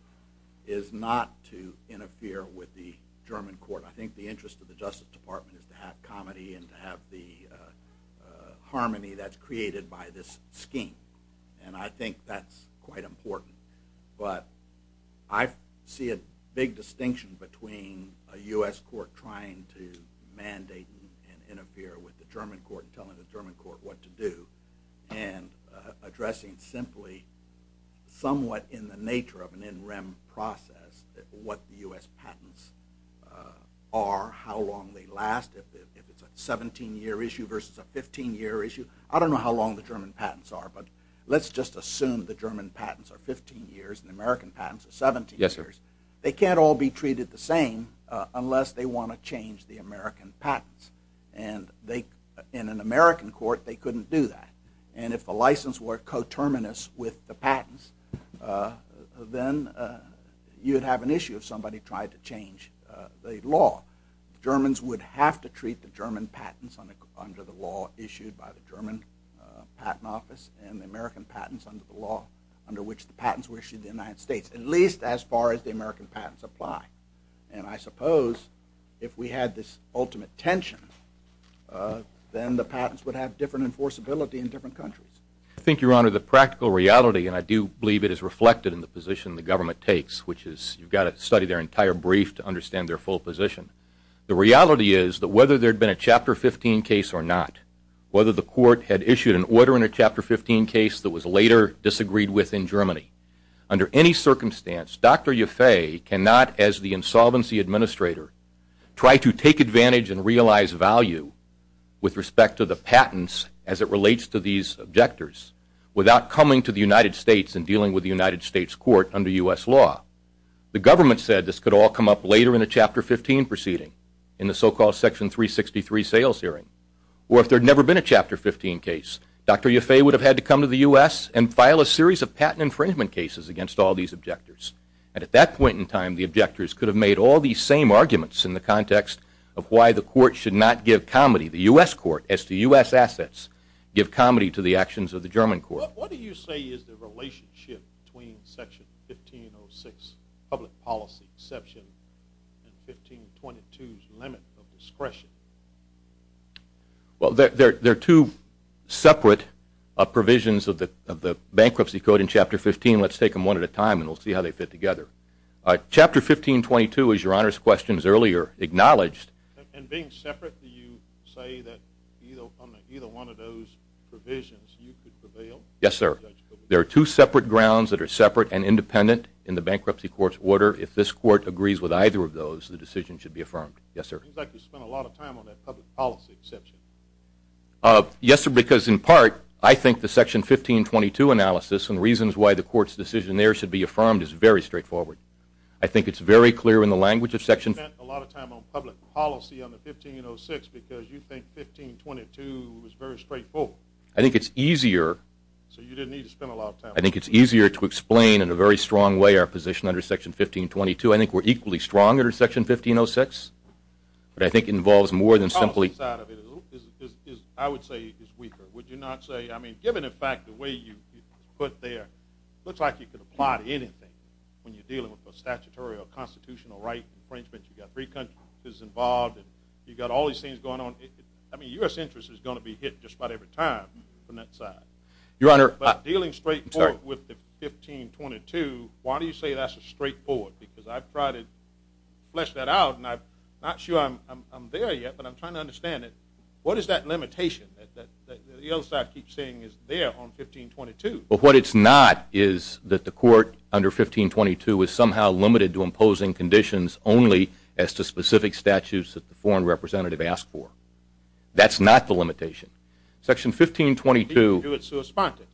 is not to interfere with the German court. I think the interest of the Justice Department is to have comedy and to have the harmony that's created by this scheme, and I think that's quite important. But I see a big distinction between a US court trying to mandate and interfere with the German court, telling the German court what to do, and addressing simply somewhat in the nature of an in-rem process what the US patents are, how long they last, if it's a 17-year issue versus a 15-year issue. I don't know how long the German patents are, but let's just assume the German patents are 15 years and the American patents are 17 years. They can't all be treated the same unless they want to change the American patents, and in an American court they couldn't do that. And if the license were coterminous with the patents, then you'd have an issue if somebody tried to change the law. Germans would have to treat the German patents under the law issued by the German patent office and the American patents under the law under which the patents were issued in the United States, at least as far as the American patents apply. And I suppose if we had this ultimate tension, then the patents would have different enforceability in different countries. I think, Your Honor, the practical reality, and I do believe it is reflected in the position the government takes, which is you've got to study their entire brief to understand their full position. The reality is that whether there had been a Chapter 15 case or not, whether the court had issued an order in a Chapter 15 case that was later disagreed with in Germany, under any circumstance, Dr. Yaffe cannot, as the insolvency administrator, try to take advantage and realize value with respect to the patents as it relates to these objectors without coming to the United States and dealing with the United States court under U.S. law. The government said this could all come up later in a Chapter 15 proceeding, in the so-called Section 363 sales hearing. Or if there had never been a Chapter 15 case, Dr. Yaffe would have had to come to the U.S. and file a series of patent infringement cases against all these objectors. And at that point in time, the objectors could have made all these same arguments in the context of why the court should not give comedy, the U.S. court, as the U.S. assets give comedy to the actions of the German court. What do you say is the relationship between Section 1506 public policy and Section 1522's limit of discretion? Well, there are two separate provisions of the bankruptcy code in Chapter 15. Let's take them one at a time, and we'll see how they fit together. Chapter 1522, as Your Honor's question earlier acknowledged... And being separate, do you say that on either one of those provisions you could prevail? Yes, sir. There are two separate grounds that are separate and independent in the bankruptcy court's order. If this court agrees with either of those, the decision should be affirmed. Yes, sir. It seems like you spent a lot of time on that public policy section. Yes, sir, because in part, I think the Section 1522 analysis and reasons why the court's decision there should be affirmed is very straightforward. I think it's very clear in the language of Section... because you think 1522 is very straightforward. I think it's easier... So you didn't need to spend a lot of time. I think it's easier to explain in a very strong way our position under Section 1522. I think we're equally strong under Section 1506. I think it involves more than simply... The policy side of it, I would say, is weaker. Would you not say, I mean, given, in fact, the way you put there, it looks like you could apply to anything when you're dealing with a statutory or constitutional right. For instance, you've got three countries involved. You've got all these things going on. I mean, U.S. interest is going to be hit just about every time from that side. Your Honor... But dealing straightforward with the 1522, why do you say that's straightforward? Because I've tried to flesh that out, and I'm not sure I'm there yet, but I'm trying to understand it. What is that limitation that the other side keeps saying is there on 1522? Well, what it's not is that the court under 1522 is somehow limited to imposing conditions only as to specific statutes that the foreign representative asked for. That's not the limitation. Section 1522... Do it to a sponsor.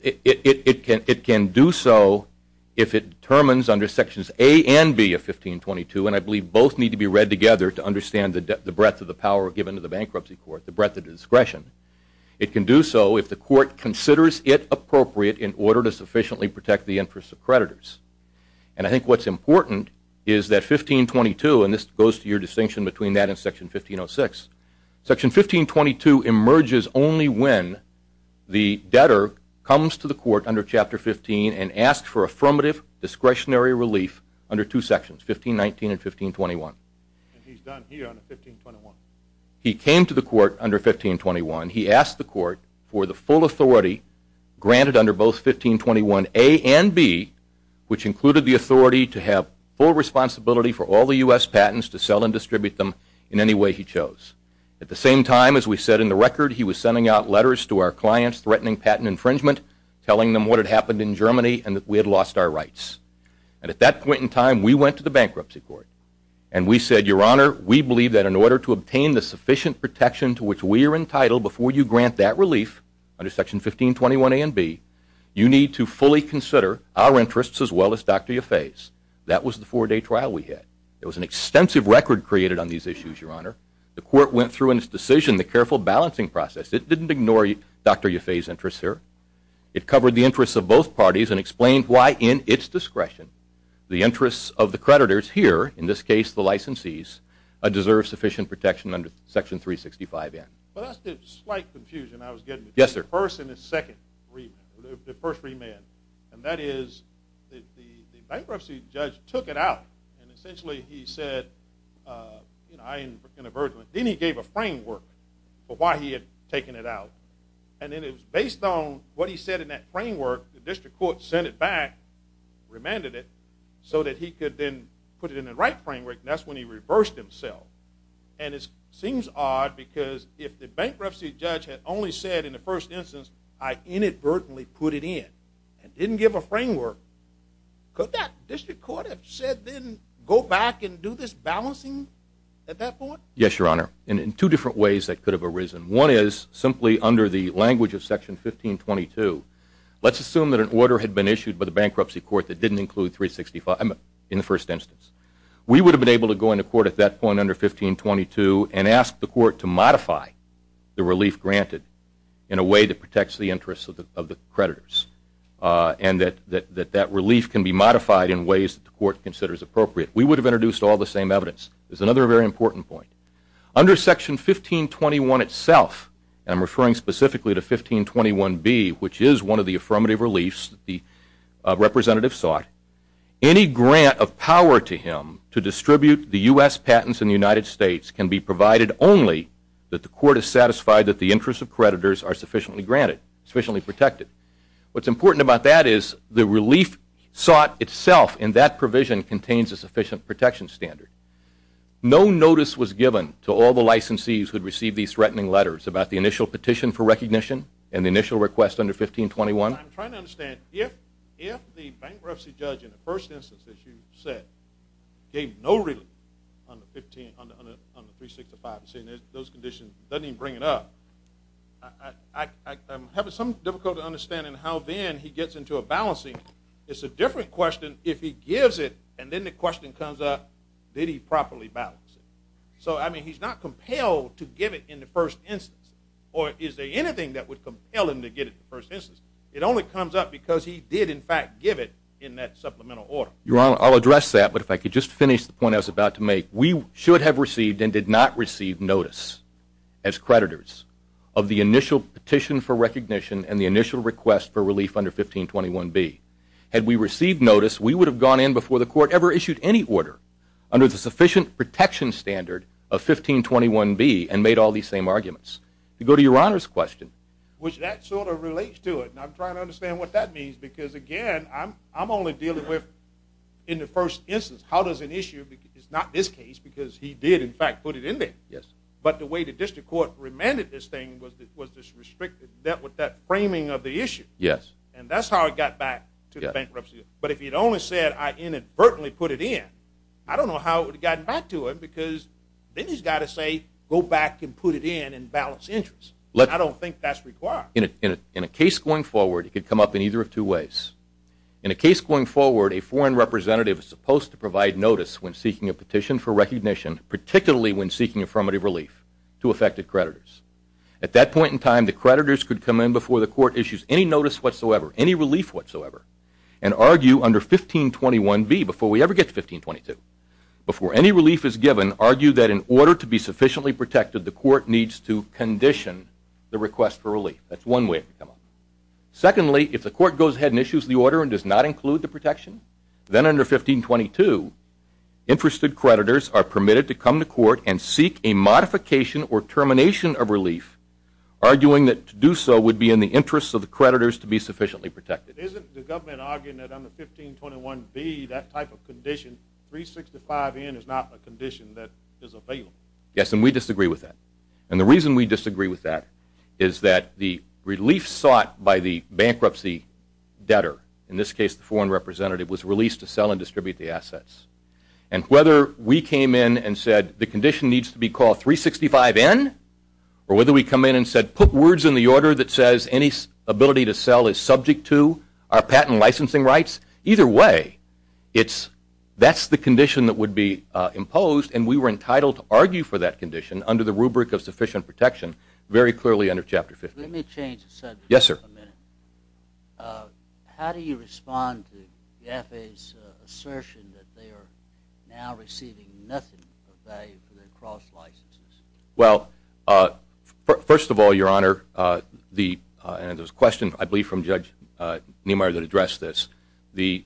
It can do so if it determines under Sections A and B of 1522, and I believe both need to be read together to understand the breadth of the power given to the bankruptcy court, the breadth of the discretion. It can do so if the court considers it appropriate in order to sufficiently protect the interest of creditors. And I think what's important is that 1522, and this goes to your distinction between that and Section 1506, Section 1522 emerges only when the debtor comes to the court under Chapter 15 and asks for affirmative discretionary relief under two sections, 1519 and 1521. And he's done here under 1521. He came to the court under 1521. He asked the court for the full authority granted under both 1521A and B, which included the authority to have full responsibility for all the U.S. patents, to sell and distribute them in any way he chose. At the same time, as we said in the record, he was sending out letters to our clients threatening patent infringement, telling them what had happened in Germany and that we had lost our rights. And at that point in time, we went to the bankruptcy court, and we said, Your Honor, we believe that in order to obtain the sufficient protection to which we are entitled before you grant that relief under Section 1521A and B, you need to fully consider our interests as well as Dr. Yaffe's. That was the four-day trial we had. It was an extensive record created on these issues, Your Honor. The court went through in its decision the careful balancing process. It didn't ignore Dr. Yaffe's interests here. It covered the interests of both parties and explained why, in its discretion, the interests of the creditors here, in this case the licensees, deserve sufficient protection under Section 365N. Well, that's the slight confusion I was getting. Yes, sir. The first and the second, the first remand, and that is the bankruptcy judge took it out, and essentially he said, you know, I am in aversion. Then he gave a framework for why he had taken it out, and then based on what he said in that framework, the district court sent it back, remanded it, so that he could then put it in the right framework, and that's when he reversed himself. And it seems odd because if the bankruptcy judge had only said in the first instance, I inadvertently put it in and didn't give a framework, could that district court have said then go back and do this balancing at that point? Yes, Your Honor, and in two different ways that could have arisen. One is simply under the language of Section 1522, let's assume that an order had been issued by the bankruptcy court that didn't include 365N in the first instance. We would have been able to go into court at that point under 1522 and ask the court to modify the relief granted in a way that protects the interests of the creditors and that that relief can be modified in ways that the court considers appropriate. We would have introduced all the same evidence. There's another very important point. Under Section 1521 itself, and I'm referring specifically to 1521B, which is one of the affirmative reliefs the representative sought, any grant of power to him to distribute the U.S. patents in the United States can be provided only that the court is satisfied that the interests of creditors are sufficiently granted, sufficiently protected. What's important about that is the relief sought itself in that provision contains a sufficient protection standard. No notice was given to all the licensees who received these threatening letters about the initial petition for recognition and the initial request under 1521? I'm trying to understand, if the bankruptcy judge in the first instance that you said gave no relief on the 365N, those conditions, doesn't even bring it up, I'm having some difficulty understanding how then he gets into a balancing. It's a different question if he gives it and then the question comes up, did he properly balance it? So, I mean, he's not compelled to give it in the first instance, or is there anything that would compel him to give it in the first instance? It only comes up because he did, in fact, give it in that supplemental order. Your Honor, I'll address that, but if I could just finish the point I was about to make. We should have received and did not receive notice as creditors of the initial petition for recognition and the initial request for relief under 1521B. Had we received notice, we would have gone in before the court ever issued any order under the sufficient protection standard of 1521B and made all these same arguments. To go to Your Honor's question. Which that sort of relates to it, and I'm trying to understand what that means because, again, I'm only dealing with, in the first instance, how does an issue, it's not this case because he did, in fact, put it in there. Yes. But the way the district court remanded this thing was this restrictive, that framing of the issue. Yes. And that's how it got back to the bankruptcy. But if he'd only said, I inadvertently put it in, I don't know how it would have gotten back to it because then he's got to say, go back and put it in and balance interest. I don't think that's required. In a case going forward, it could come up in either of two ways. In a case going forward, a foreign representative is supposed to provide notice when seeking a petition for recognition, particularly when seeking affirmative relief to affected creditors. At that point in time, the creditors could come in before the court issues any notice whatsoever, any relief whatsoever, and argue under 1521B, before we ever get to 1522, before any relief is given, argue that in order to be sufficiently protected, the court needs to condition the request for relief. That's one way it could come up. Secondly, if the court goes ahead and issues the order and does not include the protection, then under 1522, interested creditors are permitted to come to court and seek a modification or termination of relief, arguing that to do so would be in the interest of the creditors to be sufficiently protected. Isn't the government arguing that under 1521B, that type of condition, 365N is not a condition that is available? Yes, and we disagree with that. And the reason we disagree with that is that the relief sought by the bankruptcy debtor, in this case the foreign representative, was released to sell and distribute the assets. And whether we came in and said the condition needs to be called 365N or whether we come in and said put words in the order that says any ability to sell is subject to our patent licensing rights, either way, that's the condition that would be imposed, and we were entitled to argue for that condition under the rubric of sufficient protection very clearly under Chapter 15. Let me change the subject for a minute. Yes, sir. How do you respond to the FAA's assertion that they are now receiving nothing of value for their cross licenses? Well, first of all, Your Honor, and there's a question, I believe, from Judge Niemeyer that addressed this. The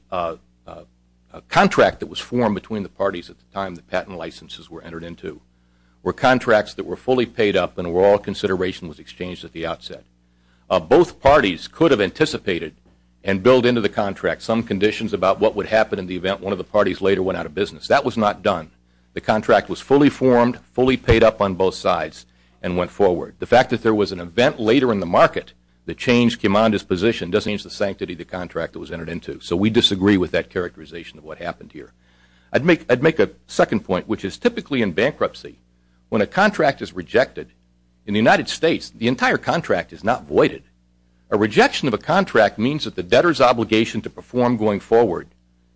contract that was formed between the parties at the time the patent licenses were entered into were contracts that were fully paid up and were all consideration was exchanged at the outset. Both parties could have anticipated and built into the contract some conditions about what would happen in the event one of the parties later went out of business. That was not done. The contract was fully formed, fully paid up on both sides, and went forward. The fact that there was an event later in the market that changed Kimanda's position doesn't change the sanctity of the contract that was entered into, so we disagree with that characterization of what happened here. I'd make a second point, which is typically in bankruptcy, when a contract is rejected, in the United States, the entire contract is not voided. A rejection of a contract means that the debtor's obligation to perform going forward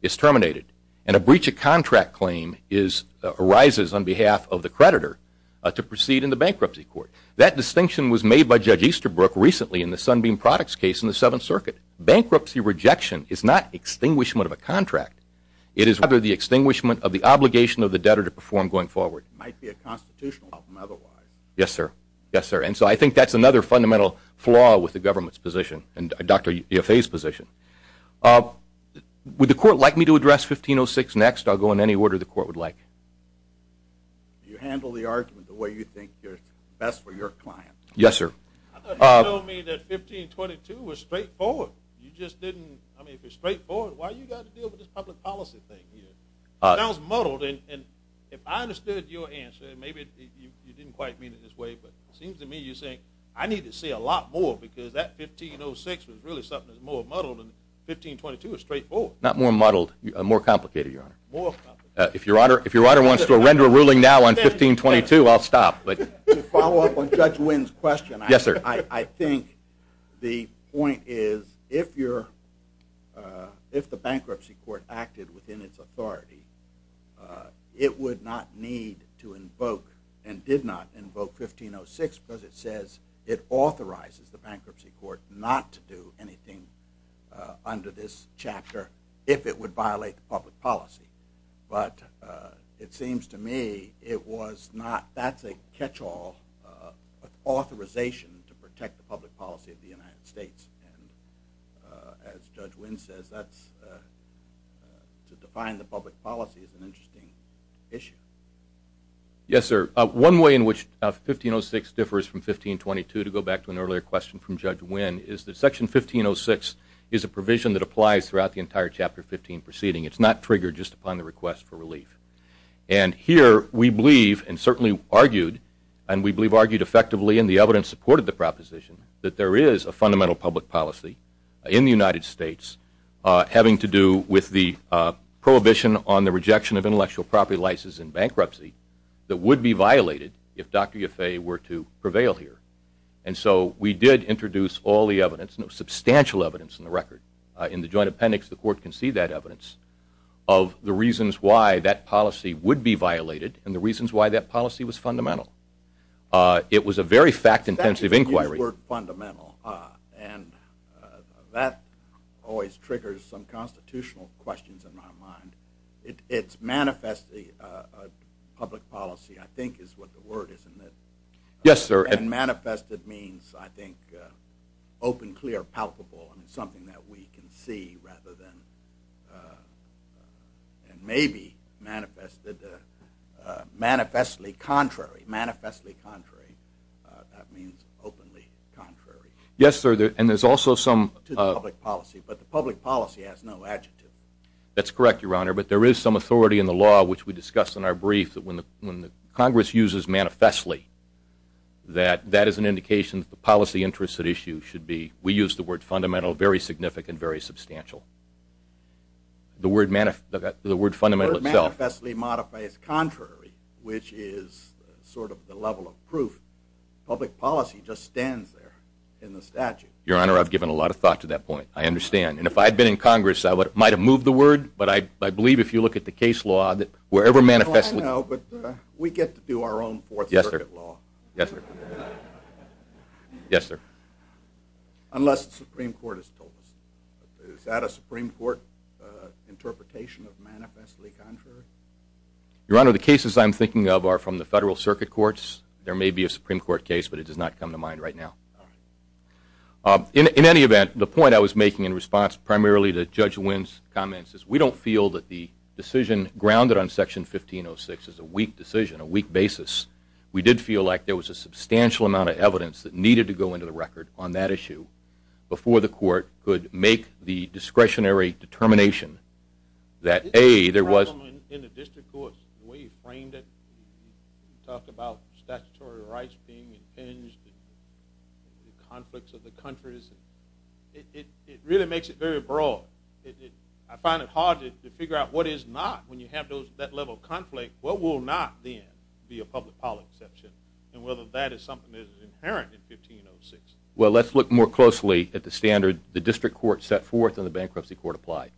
is terminated, and a breach of contract claim arises on behalf of the creditor to proceed in the bankruptcy court. That distinction was made by Judge Easterbrook recently in the Sunbeam Products case in the Seventh Circuit. Bankruptcy rejection is not extinguishment of a contract. It is rather the extinguishment of the obligation of the debtor to perform going forward. It might be a constitutional problem otherwise. Yes, sir. Yes, sir, and so I think that's another fundamental flaw with the government's position and Dr. Yaffe's position. Would the court like me to address 1506 next? I'll go in any order the court would like. You handle the argument the way you think is best for your client. Yes, sir. I thought you told me that 1522 was straightforward. You just didn't, I mean, if it's straightforward, why do you have to deal with this public policy thing here? It sounds muddled, and if I understood your answer, I need to say a lot more because that 1506 was really something more muddled than 1522 was straightforward. Not more muddled, more complicated, Your Honor. More complicated. If Your Honor wants to render a ruling now on 1522, I'll stop. To follow up on Judge Wynn's question, I think the point is if the bankruptcy court acted within its authority, it would not need to invoke and did not invoke 1506 because it says it authorizes the bankruptcy court not to do anything under this chapter if it would violate the public policy. But it seems to me it was not. That's a catch-all authorization to protect the public policy of the United States. As Judge Wynn said, to define the public policy is an interesting issue. Yes, sir. One way in which 1506 differs from 1522, to go back to an earlier question from Judge Wynn, is that Section 1506 is a provision that applies throughout the entire Chapter 15 proceeding. It's not triggered just upon the request for relief. And here we believe and certainly argued, and we believe argued effectively in the evidence supported the proposition, that there is a fundamental public policy in the United States having to do with the prohibition on the rejection of intellectual property licenses in bankruptcy that would be violated if Dr. Yaffe were to prevail here. And so we did introduce all the evidence, substantial evidence in the record, in the joint appendix, the court can see that evidence, of the reasons why that policy would be violated and the reasons why that policy was fundamental. It was a very fact-intensive inquiry. That's fundamental. And that always triggers some constitutional questions in my mind. It's manifestly a public policy, I think is what the word is, isn't it? Yes, sir. And manifested means, I think, open, clear, palpable, something that we can see rather than maybe manifested, manifestly contrary. Manifestly contrary. That means openly contrary. Yes, sir. And there's also some... It's a public policy, but the public policy has no adjective. That's correct, Your Honor. But there is some authority in the law, which we discussed in our brief, that when Congress uses manifestly, that that is an indication that the policy interest at issue should be, we use the word fundamental, very significant, very substantial. The word fundamental itself. The word manifestly modifies contrary, which is sort of the level of proof. Public policy just stands there in the statute. Your Honor, I've given a lot of thought to that point. I understand. And if I had been in Congress, I might have moved the word, but I believe if you look at the case law, wherever manifestly... I don't know, but we get to do our own Fourth Circuit law. Yes, sir. Yes, sir. Yes, sir. Unless the Supreme Court has told us. Is that a Supreme Court interpretation of manifestly contrary? Your Honor, the cases I'm thinking of are from the federal circuit courts. There may be a Supreme Court case, but it does not come to mind right now. Okay. In any event, the point I was making in response primarily to Judge Wynn's comments is we don't feel that the decision grounded on Section 1506 is a weak decision, a weak basis. We did feel like there was a substantial amount of evidence that needed to go into the record on that issue before the court could make the discretionary determination that, A, there was... It really makes it very broad. I find it hard to figure out what is not when you have that level of conflict. What will not then be a public policy exception, and whether that is something that is inherent in 1506. Well, let's look more closely at the standard the district court set forth and the bankruptcy court applied.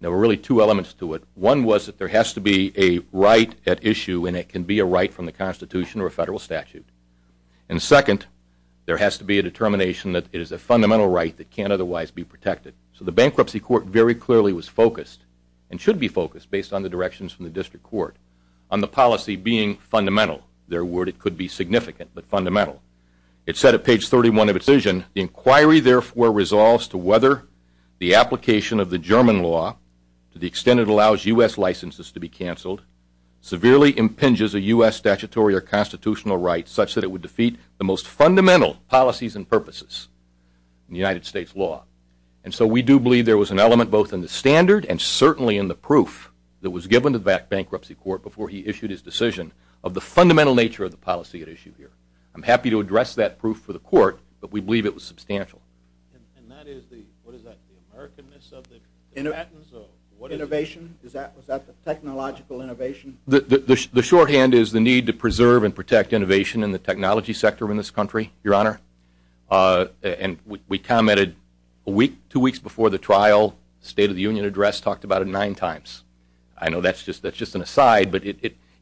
There were really two elements to it. One was that there has to be a right at issue, and it can be a right from the Constitution or a federal statute. And second, there has to be a determination that it is a fundamental right that can't otherwise be protected. So the bankruptcy court very clearly was focused, and should be focused based on the directions from the district court, on the policy being fundamental. Their word, it could be significant, but fundamental. It said at page 31 of the decision, the inquiry therefore resolves to whether the application of the German law to the extent it allows U.S. licenses to be canceled severely impinges a U.S. statutory or constitutional right such that it would defeat the most fundamental policies and purposes in the United States law. And so we do believe there was an element both in the standard and certainly in the proof that was given to that bankruptcy court before he issued his decision of the fundamental nature of the policy at issue here. I'm happy to address that proof for the court, but we believe it was substantial. And that is the, what is that, the Americanness of it? Innovation? Is that the technological innovation? The shorthand is the need to preserve and protect innovation in the technology sector in this country, Your Honor. And we commented two weeks before the trial, the State of the Union address talked about it nine times. I know that's just an aside, but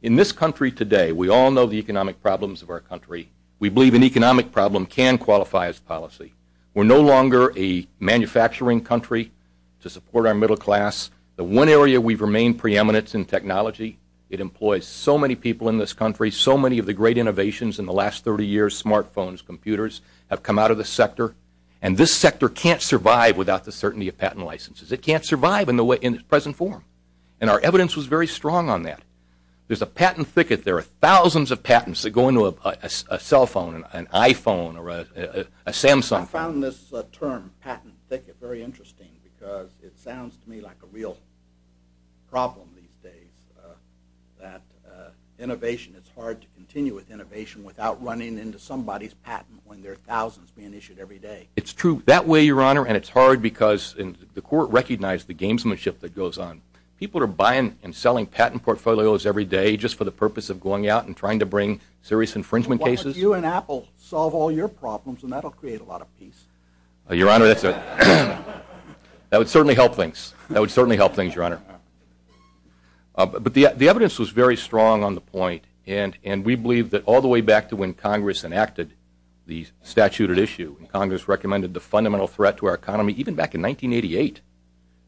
in this country today, we all know the economic problems of our country. We believe an economic problem can qualify as policy. We're no longer a manufacturing country to support our middle class. The one area we've remained preeminent in technology, it employs so many people in this country, so many of the great innovations in the last 30 years, smartphones, computers, have come out of the sector. And this sector can't survive without the certainty of patent licenses. It can't survive in its present form. And our evidence was very strong on that. There's a patent thicket. There are thousands of patents that go into a cell phone, an iPhone, or a Samsung. I found this term, patent thicket, very interesting because it sounds to me like a real problem these days, that innovation, it's hard to continue with innovation without running into somebody's patent when there are thousands being issued every day. It's true. That way, Your Honor, and it's hard because the court recognized the gamesmanship that goes on. People are buying and selling patent portfolios every day just for the purpose of going out and trying to bring serious infringement cases. You and Apple solve all your problems, and that will create a lot of peace. Your Honor, that would certainly help things. That would certainly help things, Your Honor. But the evidence was very strong on the point, and we believe that all the way back to when Congress enacted the statute at issue, Congress recommended the fundamental threat to our economy, even back in 1988,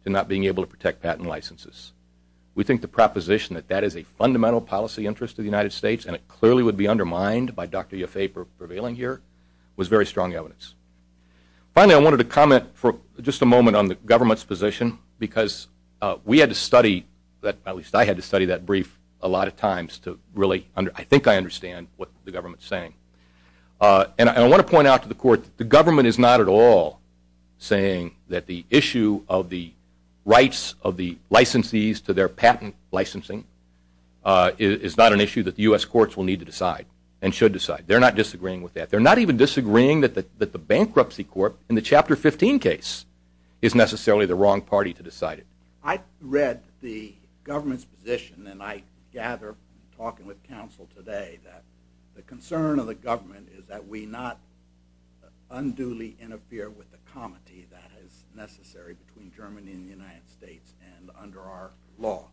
to not being able to protect patent licenses. We think the proposition that that is a fundamental policy interest to the United States and it clearly would be undermined by Dr. Yaffe prevailing here was very strong evidence. Finally, I wanted to comment for just a moment on the government's position because we had to study, at least I had to study that brief a lot of times to really, I think I understand what the government is saying. And I want to point out to the court, the government is not at all saying that the issue of the rights of the licensees to their patent licensing is not an issue that the U.S. courts will need to decide and should decide. They're not disagreeing with that. They're not even disagreeing that the bankruptcy court in the Chapter 15 case is necessarily the wrong party to decide it. I read the government's position, and I gather, talking with counsel today, that the concern of the government is that we not unduly interfere with the comity that is necessary between Germany and the United States and under our law,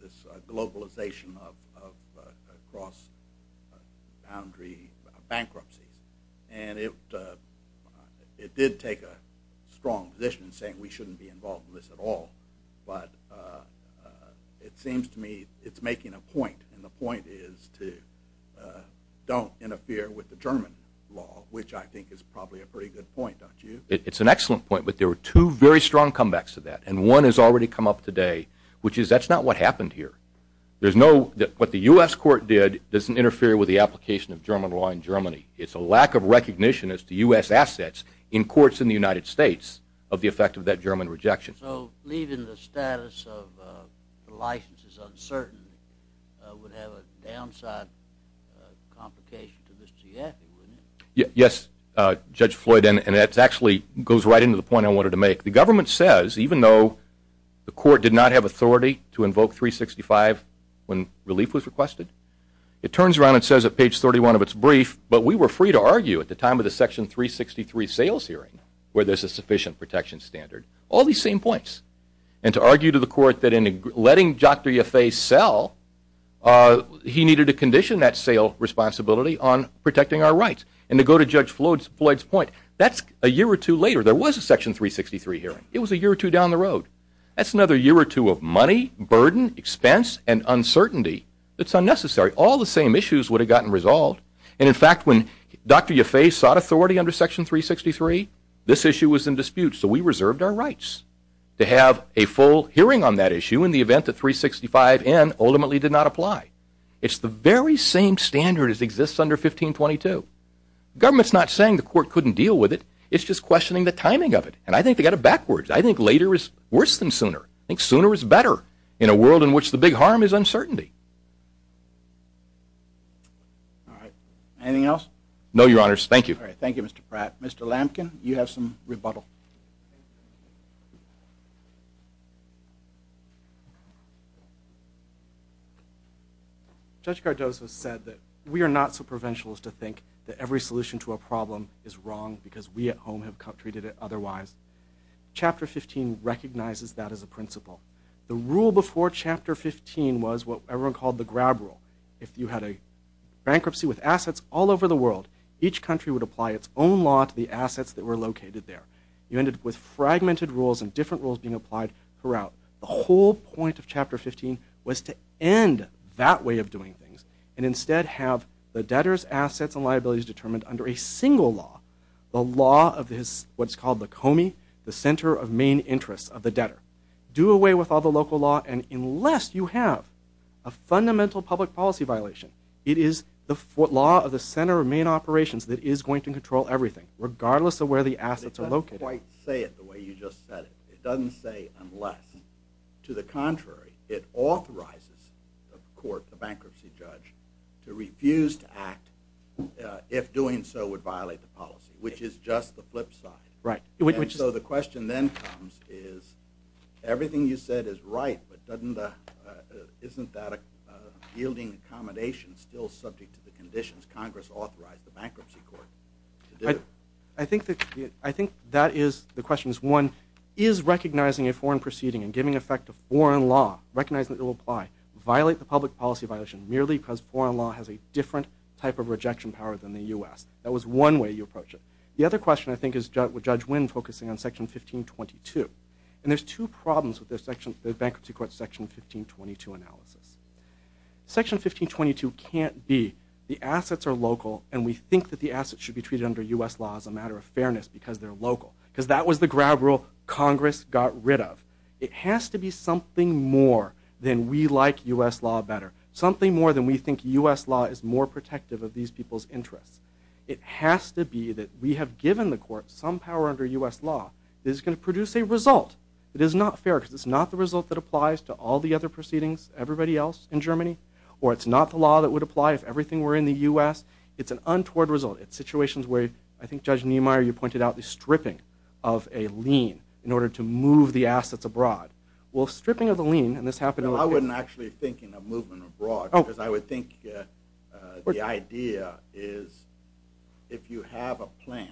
this globalization of cross-boundary bankruptcy. And it did take a strong position saying we shouldn't be involved in this at all. But it seems to me it's making a point, and the point is to don't interfere with the German law, which I think is probably a pretty good point, don't you? It's an excellent point, but there were two very strong comebacks to that, and one has already come up today, which is that's not what happened here. What the U.S. court did doesn't interfere with the application of German law in Germany. It's a lack of recognition as to U.S. assets in courts in the United States of the effect of that German rejection. Judge Floyd, so leaving the status of the license is uncertain would have a downside complication to the CF, wouldn't it? Yes, Judge Floyd, and that actually goes right into the point I wanted to make. The government says, even though the court did not have authority to invoke 365 when relief was requested, it turns around and says at page 31 of its brief, but we were free to argue at the time of the Section 363 sales hearing where there's a sufficient protection standard. All these same points, and to argue to the court that in letting Dr. Yaffe sell, he needed to condition that sale responsibility on protecting our rights, and to go to Judge Floyd's point, that's a year or two later. There was a Section 363 hearing. It was a year or two down the road. That's another year or two of money, burden, expense, and uncertainty. It's unnecessary. All the same issues would have gotten resolved, and in fact, when Dr. Yaffe sought authority under Section 363, this issue was in dispute, so we reserved our rights to have a full hearing on that issue in the event that 365N ultimately did not apply. It's the very same standard as exists under 1522. The government's not saying the court couldn't deal with it. It's just questioning the timing of it, and I think they got it backwards. I think later is worse than sooner. I think sooner is better in a world in which the big harm is uncertainty. Anything else? No, Your Honors. Thank you. Thank you, Mr. Pratt. Mr. Lamkin, you have some rebuttal. Judge Cardozo said that we are not so provincial as to think that every solution to a problem is wrong because we at home have treated it otherwise. Chapter 15 recognizes that as a principle. The rule before Chapter 15 was what everyone called the grab rule. If you had a bankruptcy with assets all over the world, each country would apply its own law to the assets that were located there. You ended up with fragmented rules and different rules being applied throughout. The whole point of Chapter 15 was to end that way of doing things and instead have the debtor's assets and liabilities determined under a single law, the law of what is called the Comey, the center of main interest of the debtor. Do away with all the local law, and unless you have a fundamental public policy violation, it is the law of the center of main operations that is going to control everything, regardless of where the assets are located. It doesn't quite say it the way you just said it. It doesn't say unless. To the contrary, it authorizes the court, the bankruptcy judge, to refuse to act if doing so would violate the policy, which is just the flip side. Right. So the question then comes is everything you said is right, but isn't that a yielding accommodation still subject to the conditions Congress authorized the bankruptcy court to do? I think that is the question. One, is recognizing a foreign proceeding and giving effect to foreign law, recognizing that it will apply, violate the public policy violation merely because foreign law has a different type of rejection power than the U.S.? That was one way you approached it. The other question I think is with Judge Wynn focusing on Section 1522, and there's two problems with the bankruptcy court's Section 1522 analysis. Section 1522 can't be the assets are local, and we think that the assets should be treated under U.S. laws as a matter of fairness because they're local, because that was the grab rule Congress got rid of. It has to be something more than we like U.S. law better, something more than we think U.S. law is more protective of these people's interests. It has to be that we have given the court some power under U.S. law that is going to produce a result. It is not fair because it's not the result that applies to all the other proceedings, everybody else in Germany, or it's not the law that would apply if everything were in the U.S. It's an untoward result. It's situations where I think Judge Niemeyer, you pointed out the stripping of a lien in order to move the assets abroad. Well, stripping of the lien, and this happened in the- I wasn't actually thinking of moving abroad, because I would think the idea is if you have a plant,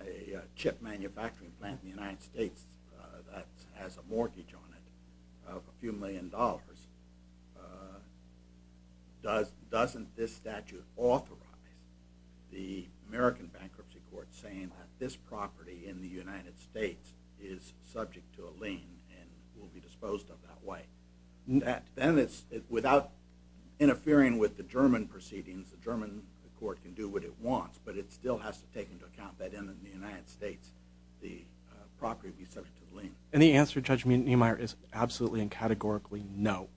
a chip manufacturing plant in the United States that has a mortgage on it of a few million dollars, doesn't this statute authorize the American Bankruptcy Court saying that this property in the United States is subject to a lien and will be disposed of that way? Then it's without interfering with the German proceedings, the German court can do what it wants, but it still has to take into account that in the United States the property is subject to a lien. Any answer, Judge Niemeyer, is absolutely and categorically no.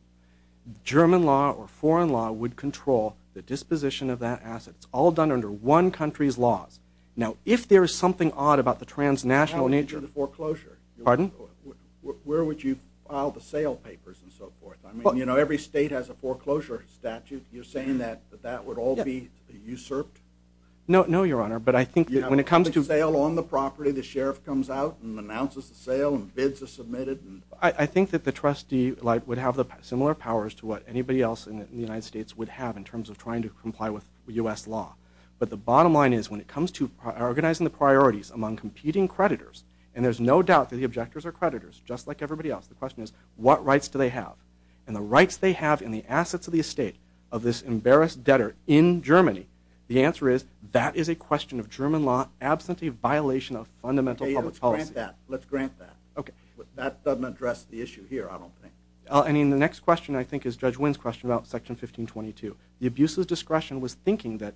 German law or foreign law would control the disposition of that asset. It's all done under one country's laws. Now, if there is something odd about the transnational nature- What happens to the foreclosure? Pardon? Where would you file the sale papers and so forth? I mean, you know, every state has a foreclosure statute. You're saying that that would all be usurped? No, Your Honor, but I think when it comes to- I think that the trustee would have similar powers to what anybody else in the United States would have in terms of trying to comply with U.S. law. But the bottom line is, when it comes to organizing the priorities among competing creditors, and there's no doubt that the objectors are creditors, just like everybody else, the question is, what rights do they have? And the rights they have in the assets of the estate of this embarrassed debtor in Germany, the answer is, that is a question of German law and it's absolutely a violation of fundamental public policy. Let's grant that. Okay. That doesn't address the issue here, I don't think. I mean, the next question, I think, is Judge Wynn's question about Section 1522. The abuser of discretion was thinking that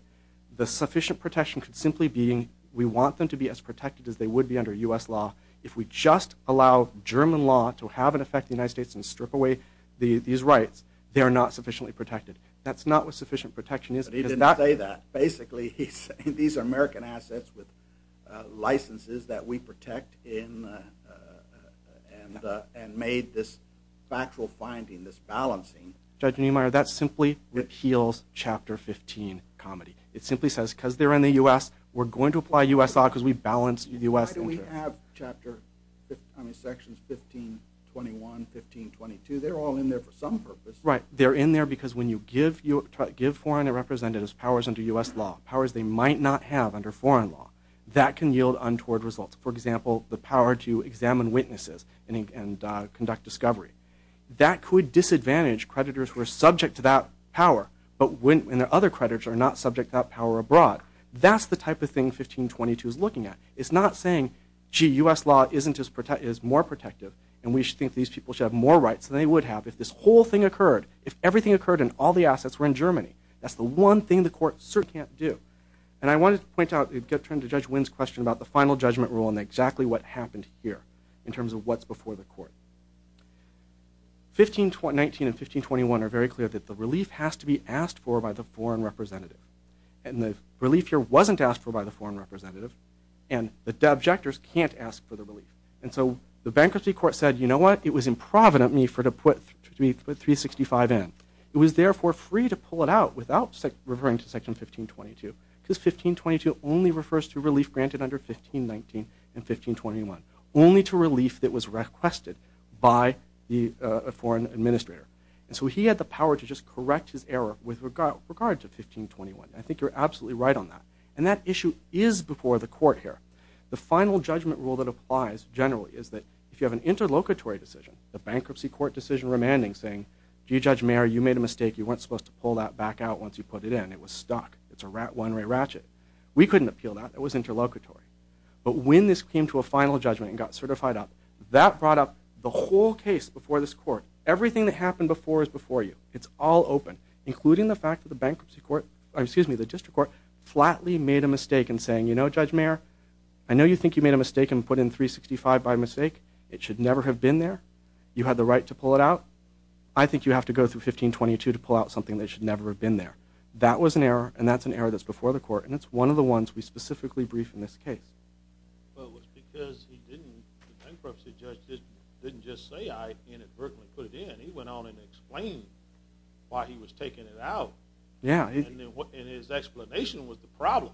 the sufficient protection could simply be we want them to be as protected as they would be under U.S. law. If we just allow German law to have an effect on the United States and strip away these rights, they are not sufficiently protected. That's not what sufficient protection is. He didn't say that. Basically, he's saying these are American assets with licenses that we protect and made this factual finding, this balancing. Judge Niemeyer, that simply reveals Chapter 15 comedy. It simply says, because they're in the U.S., we're going to apply U.S. law because we balance U.S. Why do we have Chapter 1521, 1522? They're all in there for some purpose. Right, they're in there because when you give foreign representatives powers under U.S. law, powers they might not have under foreign law, that can yield untoward results. For example, the power to examine witnesses and conduct discovery. That could disadvantage creditors who are subject to that power, but other creditors are not subject to that power abroad. That's the type of thing 1522 is looking at. It's not saying, gee, U.S. law is more protective, and we think these people should have more rights than they would have. If this whole thing occurred, if everything occurred and all the assets were in Germany, that's the one thing the court certainly can't do. And I wanted to point out in return to Judge Wynn's question about the final judgment rule and exactly what happened here in terms of what's before the court. 1519 and 1521 are very clear that the relief has to be asked for by the foreign representative. And the relief here wasn't asked for by the foreign representative, and the abjectors can't ask for the relief. And so the bankruptcy court said, you know what, it was improvident for me to put 365 in. It was therefore free to pull it out without referring to Section 1522. Because 1522 only refers to relief granted under 1519 and 1521, only to relief that was requested by a foreign administrator. And so he had the power to just correct his error with regard to 1521. I think you're absolutely right on that. And that issue is before the court here. The final judgment rule that applies generally is that if you have an interlocutory decision, the bankruptcy court decision remanding thing, you, Judge Mayer, you made a mistake. You weren't supposed to pull that back out once you put it in. It was stuck. It's a one-way ratchet. We couldn't appeal that. It was interlocutory. But when this came to a final judgment and got certified up, that brought up the whole case before this court. Everything that happened before is before you. It's all open, including the fact that the bankruptcy court, excuse me, the district court, flatly made a mistake in saying, you know, Judge Mayer, I know you think you made a mistake and put in 365 by mistake. It should never have been there. You had the right to pull it out. I think you have to go through 1522 to pull out something that should never have been there. That was an error, and that's an error that's before the court, and it's one of the ones we specifically brief in this case. Well, because he didn't, the bankruptcy judge didn't just say, I can't at first put it in. He went on and explained why he was taking it out. Yeah. And his explanation was the problem.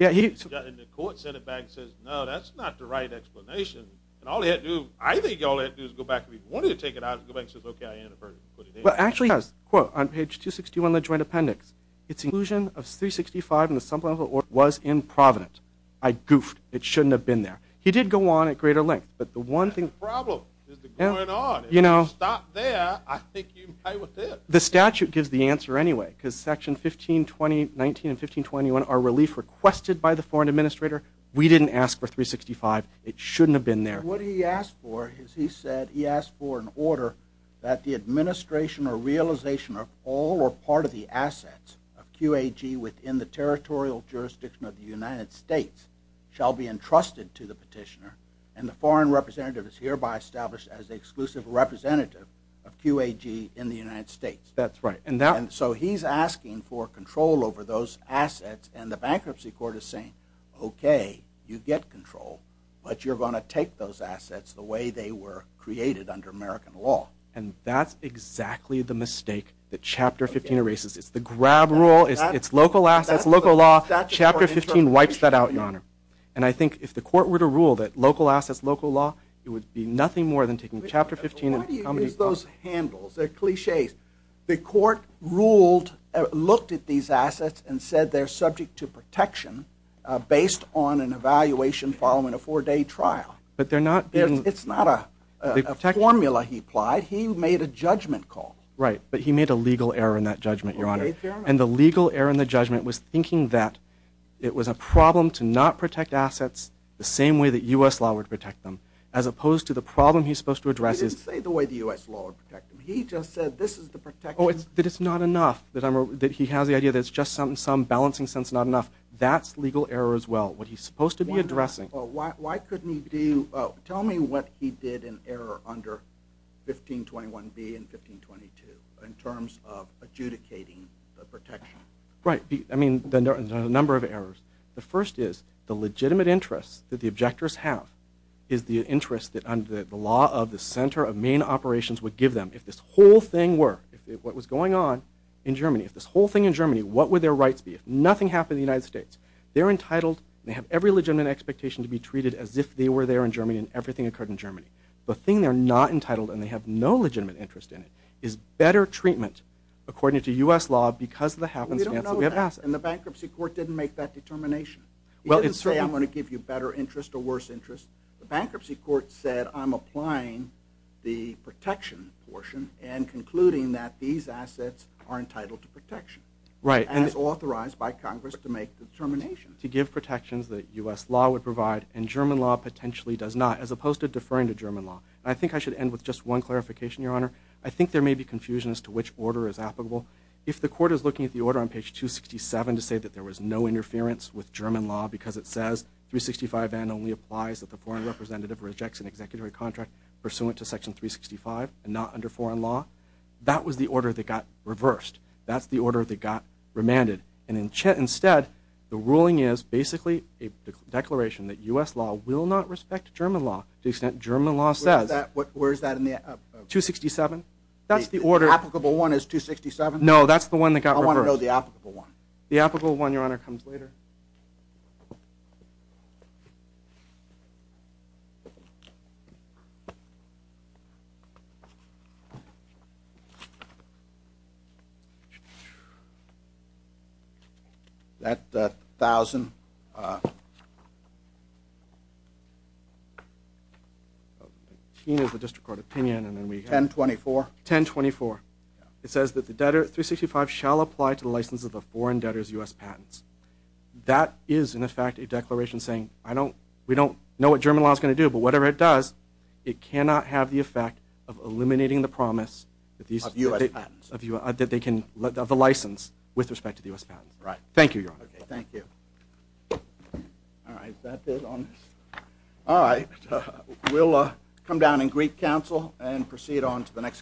And the court sent it back and said, no, that's not the right explanation. And all they had to do, I think all they had to do was go back and report it, take it out, and go back and say, okay, I didn't put it in. Well, actually, quote, on page 261 of the joint appendix, it's inclusion of 365 in the sum of what was in Providence. I goofed. It shouldn't have been there. He did go on at greater length, but the one thing. That's the problem. It's going on. You know. If you stop there, I think you can play with it. The statute gives the answer anyway, because section 1520, 19 and 1521 are relief requested by the foreign administrator. We didn't ask for 365. It shouldn't have been there. What he asked for is he said he asked for an order that the administration or realization of all or part of the assets of QAG within the territorial jurisdiction of the United States shall be entrusted to the petitioner, and the foreign representative is hereby established as the exclusive representative of QAG in the United States. That's right. And so he's asking for control over those assets, and the bankruptcy court is saying, okay, you get control, but you're going to take those assets the way they were created under American law. And that's exactly the mistake that Chapter 15 erases. It's the grab rule. It's local assets, local law. Chapter 15 wipes that out, Your Honor. And I think if the court were to rule that local assets, local law, it would be nothing more than taking Chapter 15. Why do you use those handles? They're cliches. The court looked at these assets and said they're subject to protection based on an evaluation following a four-day trial. It's not a formula he applied. He made a judgment call. Right, but he made a legal error in that judgment, Your Honor. And the legal error in the judgment was thinking that it was a problem to not protect assets the same way that U.S. law would protect them as opposed to the problem he's supposed to address. I didn't say the way the U.S. law would protect them. He just said this is the protection. But it's not enough. He has the idea that it's just some balancing sense, not enough. That's legal error as well, what he's supposed to be addressing. Why couldn't he do – tell me what he did in error under 1521B and 1522 in terms of adjudicating the protection. Right. I mean, there are a number of errors. The first is the legitimate interest that the objectors have is the interest that the law of the center of main operations would give them. If this whole thing were, if what was going on in Germany, if this whole thing in Germany, what would their rights be? If nothing happened in the United States, they're entitled, they have every legitimate expectation to be treated as if they were there in Germany and everything occurred in Germany. The thing they're not entitled and they have no legitimate interest in is better treatment according to U.S. law because of the happenstance. We don't know that. And the bankruptcy court didn't make that determination. It doesn't say I'm going to give you better interest or worse interest. The bankruptcy court said I'm applying the protection portion and concluding that these assets are entitled to protection. Right. And it's authorized by Congress to make the determination. To give protections that U.S. law would provide and German law potentially does not as opposed to deferring to German law. And I think I should end with just one clarification, Your Honor. I think there may be confusion as to which order is applicable. If the court is looking at the order on page 267 to say that there was no interference with German law because it says 365N only applies if a foreign representative rejects an executive contract pursuant to section 365 and not under foreign law, that was the order that got reversed. That's the order that got remanded. And instead, the ruling is basically a declaration that U.S. law will not respect German law to the extent German law says. Where is that in the? 267. That's the order. Applicable one is 267? No, that's the one that got reversed. I want to know the applicable one. The applicable one, Your Honor, comes later. That 1,000. The district court opinion. 1024. 1024. It says that the debtor 365 shall apply to the license of a foreign debtor's U.S. patents. That is, in effect, a declaration saying, we don't know what German law is going to do, but whatever it does, it cannot have the effect of eliminating the promise of the license with respect to the U.S. patents. Thank you, Your Honor. Thank you. All right. Is that it on this? All right. We'll come down and greet counsel and proceed on to the next case.